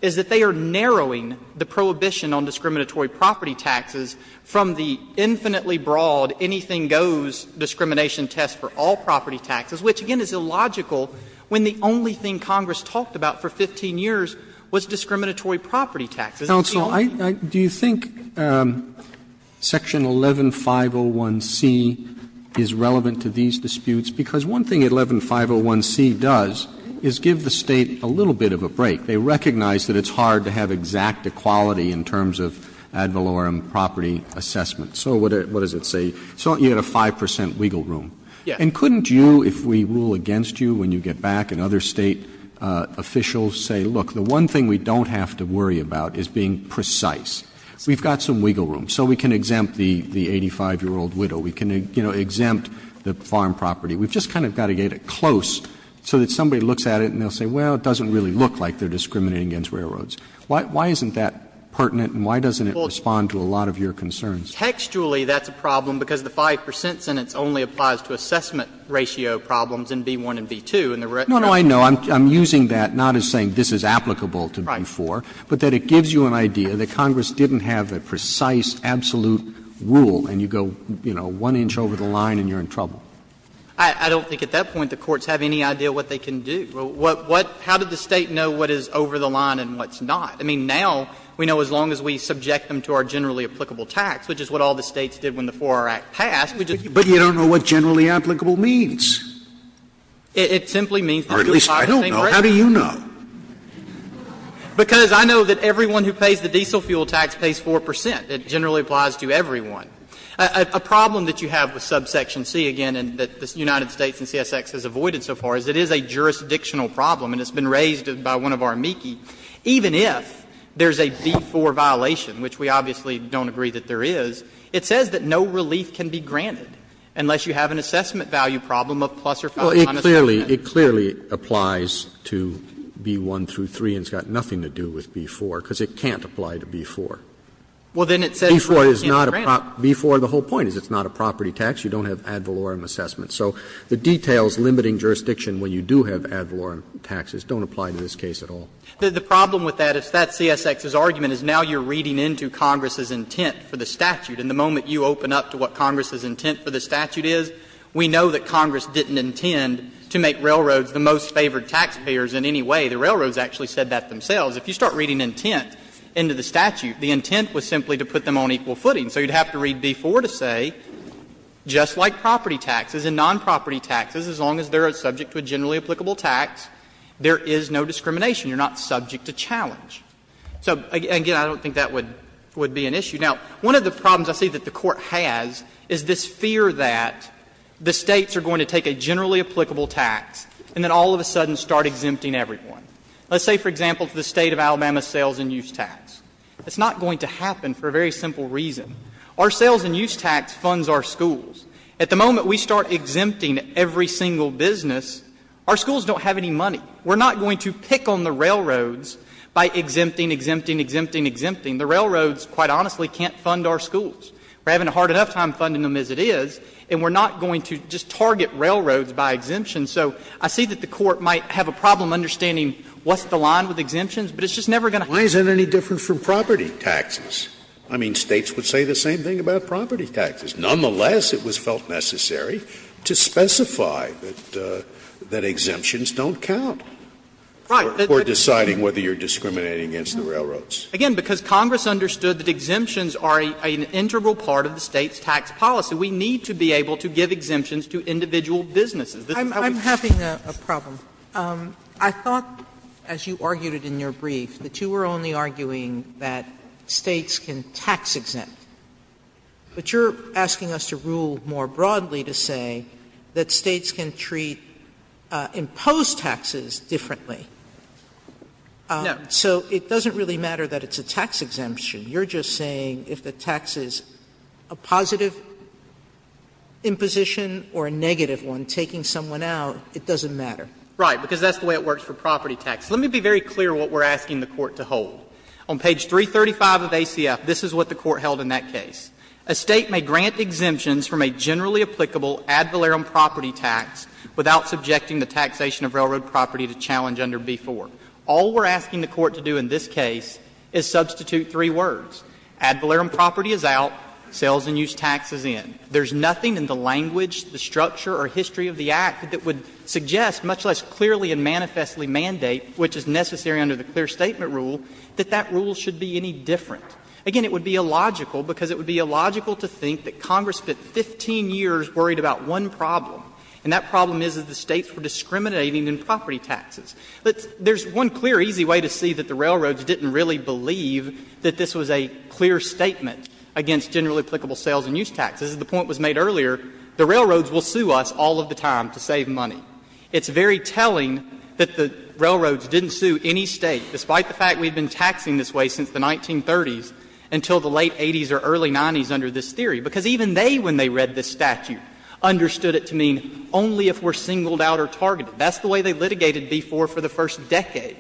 is that they are narrowing the prohibition on discriminatory property taxes from the infinitely broad anything-goes discrimination test for all property taxes, which, again, is illogical when the only thing Congress talked about for 15 years was discriminatory property taxes. Roberts. Counsel, do you think section 11501C is relevant to these disputes? Because one thing 11501C does is give the State a little bit of a break. They recognize that it's hard to have exact equality in terms of ad valorem property assessment. So what does it say? So you had a 5 percent wiggle room. Yes. And couldn't you, if we rule against you when you get back and other State officials say, look, the one thing we don't have to worry about is being precise? We've got some wiggle room, so we can exempt the 85-year-old widow. We can, you know, exempt the farm property. We've just kind of got to get it close so that somebody looks at it and they'll say, well, it doesn't really look like they're discriminating against railroads. Why isn't that pertinent and why doesn't it respond to a lot of your concerns? Textually, that's a problem, because the 5 percent sentence only applies to assessment ratio problems in B-1 and B-2. And the rest of it is not. Roberts. I'm using that not as saying this is applicable to B-4, but that it gives you an idea that Congress didn't have a precise, absolute rule, and you go, you know, one inch over the line and you're in trouble. I don't think at that point the courts have any idea what they can do. How did the State know what is over the line and what's not? I mean, now we know as long as we subject them to our generally applicable tax, which is what all the States did when the 4-R Act passed. Scalia. But you don't know what generally applicable means. Or at least I don't know. How do you know? Because I know that everyone who pays the diesel fuel tax pays 4 percent. It generally applies to everyone. A problem that you have with subsection C, again, and that the United States and CSX has avoided so far, is it is a jurisdictional problem, and it's been raised by one of our amici, even if there's a B-4 violation, which we obviously don't agree that there is, it says that no relief can be granted unless you have an assessment value problem of plus or minus 5 percent. Roberts. It clearly applies to B-1 through 3 and has nothing to do with B-4 because it can't apply to B-4. B-4 is not a property tax, B-4, the whole point is it's not a property tax, you don't have ad valorem assessment. So the details limiting jurisdiction when you do have ad valorem taxes don't apply to this case at all. The problem with that is that CSX's argument is now you're reading into Congress's intent for the statute. And the moment you open up to what Congress's intent for the statute is, we know that Congress didn't intend to make railroads the most favored taxpayers in any way. The railroads actually said that themselves. If you start reading intent into the statute, the intent was simply to put them on equal footing. So you'd have to read B-4 to say, just like property taxes and nonproperty taxes, as long as they're subject to a generally applicable tax, there is no jurisdiction for discrimination, you're not subject to challenge. So, again, I don't think that would be an issue. Now, one of the problems I see that the Court has is this fear that the States are going to take a generally applicable tax and then all of a sudden start exempting everyone. Let's say, for example, to the State of Alabama's sales and use tax. It's not going to happen for a very simple reason. Our sales and use tax funds our schools. At the moment we start exempting every single business, our schools don't have any money. We're not going to pick on the railroads by exempting, exempting, exempting, exempting. The railroads, quite honestly, can't fund our schools. We're having a hard enough time funding them as it is, and we're not going to just target railroads by exemption. So I see that the Court might have a problem understanding what's the line with exemptions, but it's just never going to happen. Scalia. Why is that any different from property taxes? I mean, States would say the same thing about property taxes. Nonetheless, it was felt necessary to specify that exemptions don't count for deciding whether you're discriminating against the railroads. Again, because Congress understood that exemptions are an integral part of the State's tax policy. We need to be able to give exemptions to individual businesses. Sotomayor, I'm having a problem. I thought, as you argued it in your brief, that you were only arguing that States can tax-exempt. But you're asking us to rule more broadly to say that States can treat imposed taxes differently. So it doesn't really matter that it's a tax exemption. You're just saying if the tax is a positive imposition or a negative one, taking someone out, it doesn't matter. Right, because that's the way it works for property taxes. Let me be very clear what we're asking the Court to hold. On page 335 of ACF, this is what the Court held in that case. A State may grant exemptions from a generally applicable ad valerum property tax without subjecting the taxation of railroad property to challenge under B-4. All we're asking the Court to do in this case is substitute three words. Ad valerum property is out, sales and use tax is in. There's nothing in the language, the structure, or history of the act that would suggest, much less clearly and manifestly mandate, which is necessary under the clear statement rule, that that rule should be any different. Again, it would be illogical, because it would be illogical to think that Congress spent 15 years worried about one problem, and that problem is that the States were discriminating in property taxes. There's one clear, easy way to see that the railroads didn't really believe that this was a clear statement against generally applicable sales and use taxes. As the point was made earlier, the railroads will sue us all of the time to save money. It's very telling that the railroads didn't sue any State, despite the fact we've been taxing this way since the 1930s until the late 80s or early 90s under this theory, because even they, when they read this statute, understood it to mean only if we're singled out or targeted. That's the way they litigated B-4 for the first decade.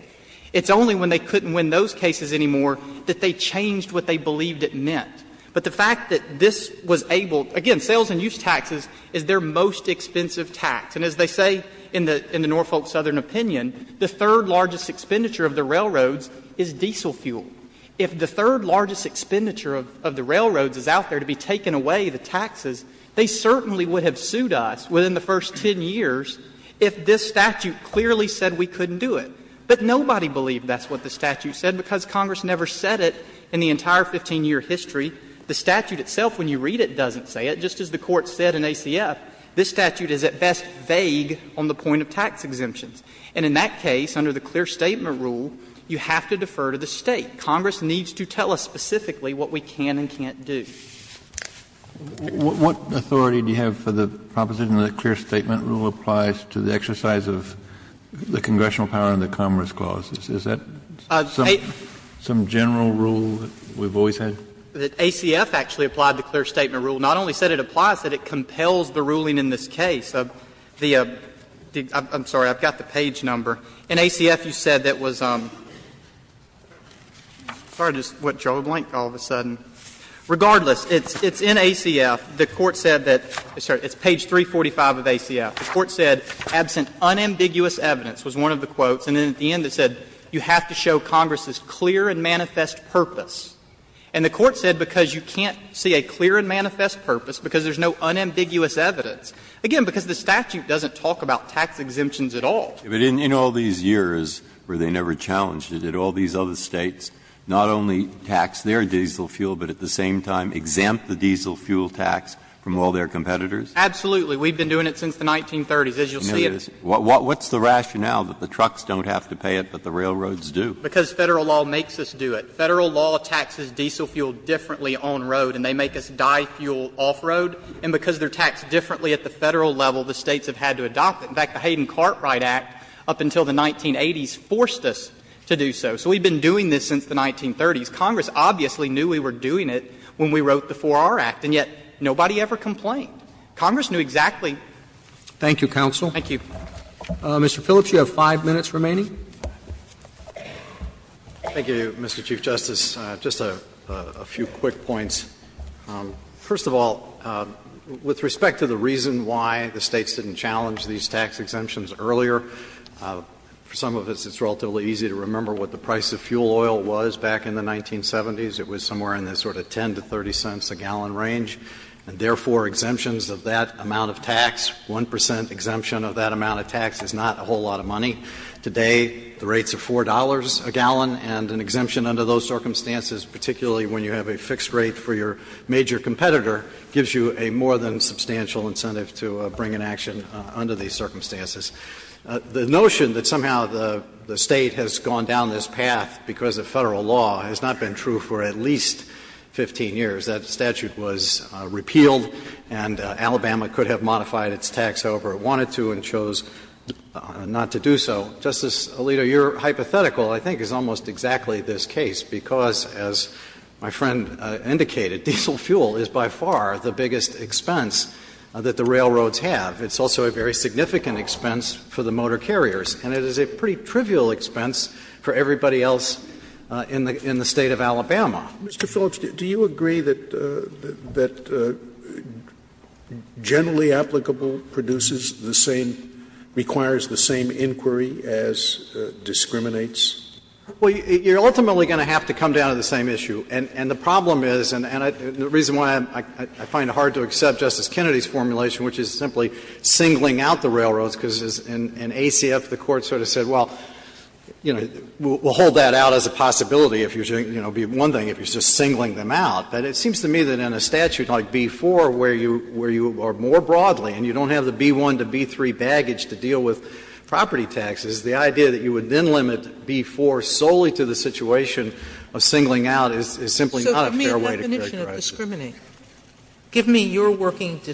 It's only when they couldn't win those cases anymore that they changed what they believed it meant. But the fact that this was able to – again, sales and use taxes is their most expensive tax. And as they say in the Norfolk Southern opinion, the third largest expenditure of the railroads is diesel fuel. If the third largest expenditure of the railroads is out there to be taking away the taxes, they certainly would have sued us within the first 10 years if this statute clearly said we couldn't do it. But nobody believed that's what the statute said because Congress never said it in the entire 15-year history. The statute itself, when you read it, doesn't say it. And just as the Court said in ACF, this statute is at best vague on the point of tax exemptions. And in that case, under the clear statement rule, you have to defer to the State. Congress needs to tell us specifically what we can and can't do. Kennedy. Kennedy. What authority do you have for the proposition that the clear statement rule applies to the exercise of the congressional power in the Commerce Clause? Is that some general rule that we've always had? The ACF actually applied the clear statement rule. Not only said it applies, that it compels the ruling in this case. The — I'm sorry, I've got the page number. In ACF, you said that was — sorry, I just went jaw-blank all of a sudden. Regardless, it's in ACF. The Court said that — sorry, it's page 345 of ACF. The Court said, absent unambiguous evidence, was one of the quotes, and then at the end it said, you have to show Congress's clear and manifest purpose. And the Court said because you can't see a clear and manifest purpose, because there's no unambiguous evidence. Again, because the statute doesn't talk about tax exemptions at all. But in all these years where they never challenged it, did all these other States not only tax their diesel fuel, but at the same time exempt the diesel fuel tax from all their competitors? Absolutely. We've been doing it since the 1930s. As you'll see, it's — What's the rationale that the trucks don't have to pay it, but the railroads do? Because Federal law makes us do it. Federal law taxes diesel fuel differently on-road, and they make us die fuel off-road. And because they're taxed differently at the Federal level, the States have had to adopt it. In fact, the Hayden-Cartwright Act up until the 1980s forced us to do so. So we've been doing this since the 1930s. Congress obviously knew we were doing it when we wrote the 4R Act, and yet nobody ever complained. Congress knew exactly ‑‑ Roberts. Thank you, counsel. Thank you. Mr. Phillips, you have 5 minutes remaining. Thank you, Mr. Chief Justice. Just a few quick points. First of all, with respect to the reason why the States didn't challenge these tax exemptions earlier, for some of us it's relatively easy to remember what the price of fuel oil was back in the 1970s. It was somewhere in the sort of 10 to 30 cents a gallon range. And therefore, exemptions of that amount of tax, 1 percent exemption of that amount of tax is not a whole lot of money. Today, the rate's of $4 a gallon, and an exemption under those circumstances, particularly when you have a fixed rate for your major competitor, gives you a more than substantial incentive to bring an action under these circumstances. The notion that somehow the State has gone down this path because of Federal law has not been true for at least 15 years. That statute was repealed, and Alabama could have modified its tax however it wanted to and chose not to do so. Justice Alito, your hypothetical I think is almost exactly this case, because, as my friend indicated, diesel fuel is by far the biggest expense that the railroads have. It's also a very significant expense for the motor carriers, and it is a pretty trivial expense for everybody else in the State of Alabama. Scalia. Mr. Phillips, do you agree that generally applicable produces the same, requires the same inquiry as discriminates? Well, you're ultimately going to have to come down to the same issue. And the problem is, and the reason why I find it hard to accept Justice Kennedy's formulation, which is simply singling out the railroads, because in ACF the Court sort of said, well, you know, we'll hold that out as a possibility if you're doing one thing, if you're just singling them out. But it seems to me that in a statute like B-4, where you are more broadly and you don't have the B-1 to B-3 baggage to deal with property taxes, the idea that you would then limit B-4 solely to the situation of singling out is simply not a fair way to characterize it. Sotomayor, give me a definition of discriminate. Give me your working to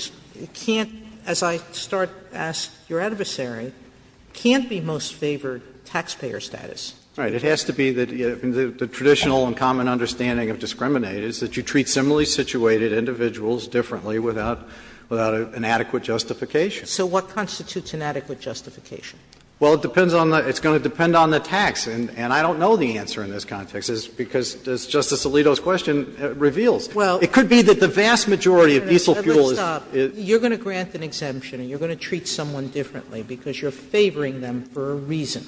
can't, as I start to ask your adversary, can't be most favored taxpayer status. All right. It has to be the traditional and common understanding of discriminate is that you treat similarly situated individuals differently without an adequate justification. So what constitutes an adequate justification? Well, it depends on the tax. And I don't know the answer in this context, because, as Justice Alito's question reveals, it could be that the vast majority of diesel fuel is. You're going to grant an exemption and you're going to treat someone differently because you're favoring them for a reason.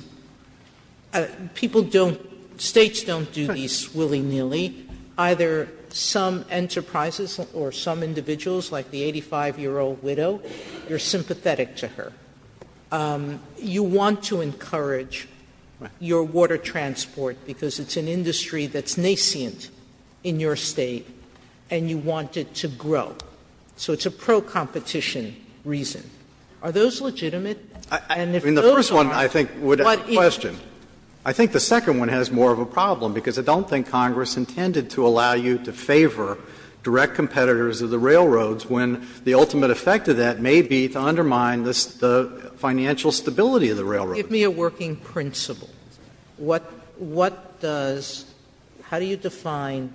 People don't, States don't do these willy-nilly. Either some enterprises or some individuals, like the 85-year-old widow, you're sympathetic to her. You want to encourage your water transport because it's an industry that's nascent in your State and you want it to grow. So it's a pro-competition reason. Are those legitimate? And if those are, what is it? I mean, the first one I think would have a question. I think the second one has more of a problem, because I don't think Congress intended to allow you to favor direct competitors of the railroads when the ultimate effect of that may be to undermine the financial stability of the railroads. Give me a working principle. What does – how do you define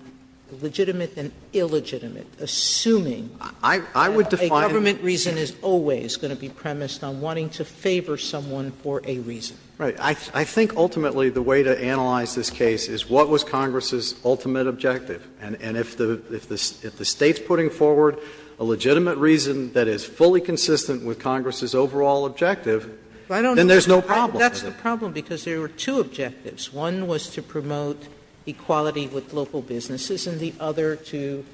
legitimate and illegitimate, assuming that a government reason is always going to be premised on wanting to favor someone for a reason? Right. I think ultimately the way to analyze this case is what was Congress's ultimate objective. And if the State's putting forward a legitimate reason that is fully consistent with Congress's overall objective, then there's no problem. That's the problem, because there were two objectives. One was to promote equality with local businesses, and the other to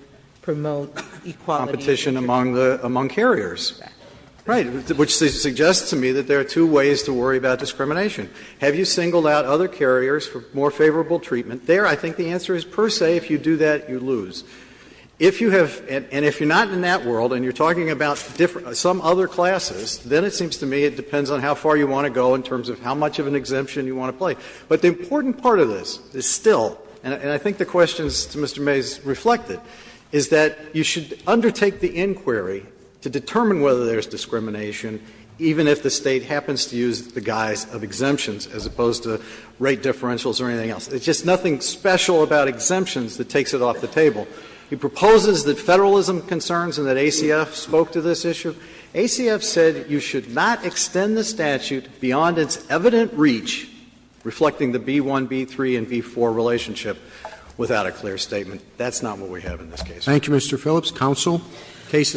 promote equality of competition among the – among carriers, right, which suggests to me that there are two ways to worry about discrimination. Have you singled out other carriers for more favorable treatment? There, I think the answer is per se, if you do that, you lose. If you have – and if you're not in that world and you're talking about some other classes, then it seems to me it depends on how far you want to go in terms of how much of an exemption you want to play. But the important part of this is still, and I think the question to Mr. Mays reflected, is that you should undertake the inquiry to determine whether there's discrimination even if the State happens to use the guise of exemptions as opposed to rate differentials or anything else. There's just nothing special about exemptions that takes it off the table. He proposes that Federalism concerns and that ACF spoke to this issue. ACF said you should not extend the statute beyond its evident reach, reflecting the B-1, B-3, and B-4 relationship, without a clear statement. That's not what we have in this case. Thank you, Mr. Phillips. Counsel, case is submitted.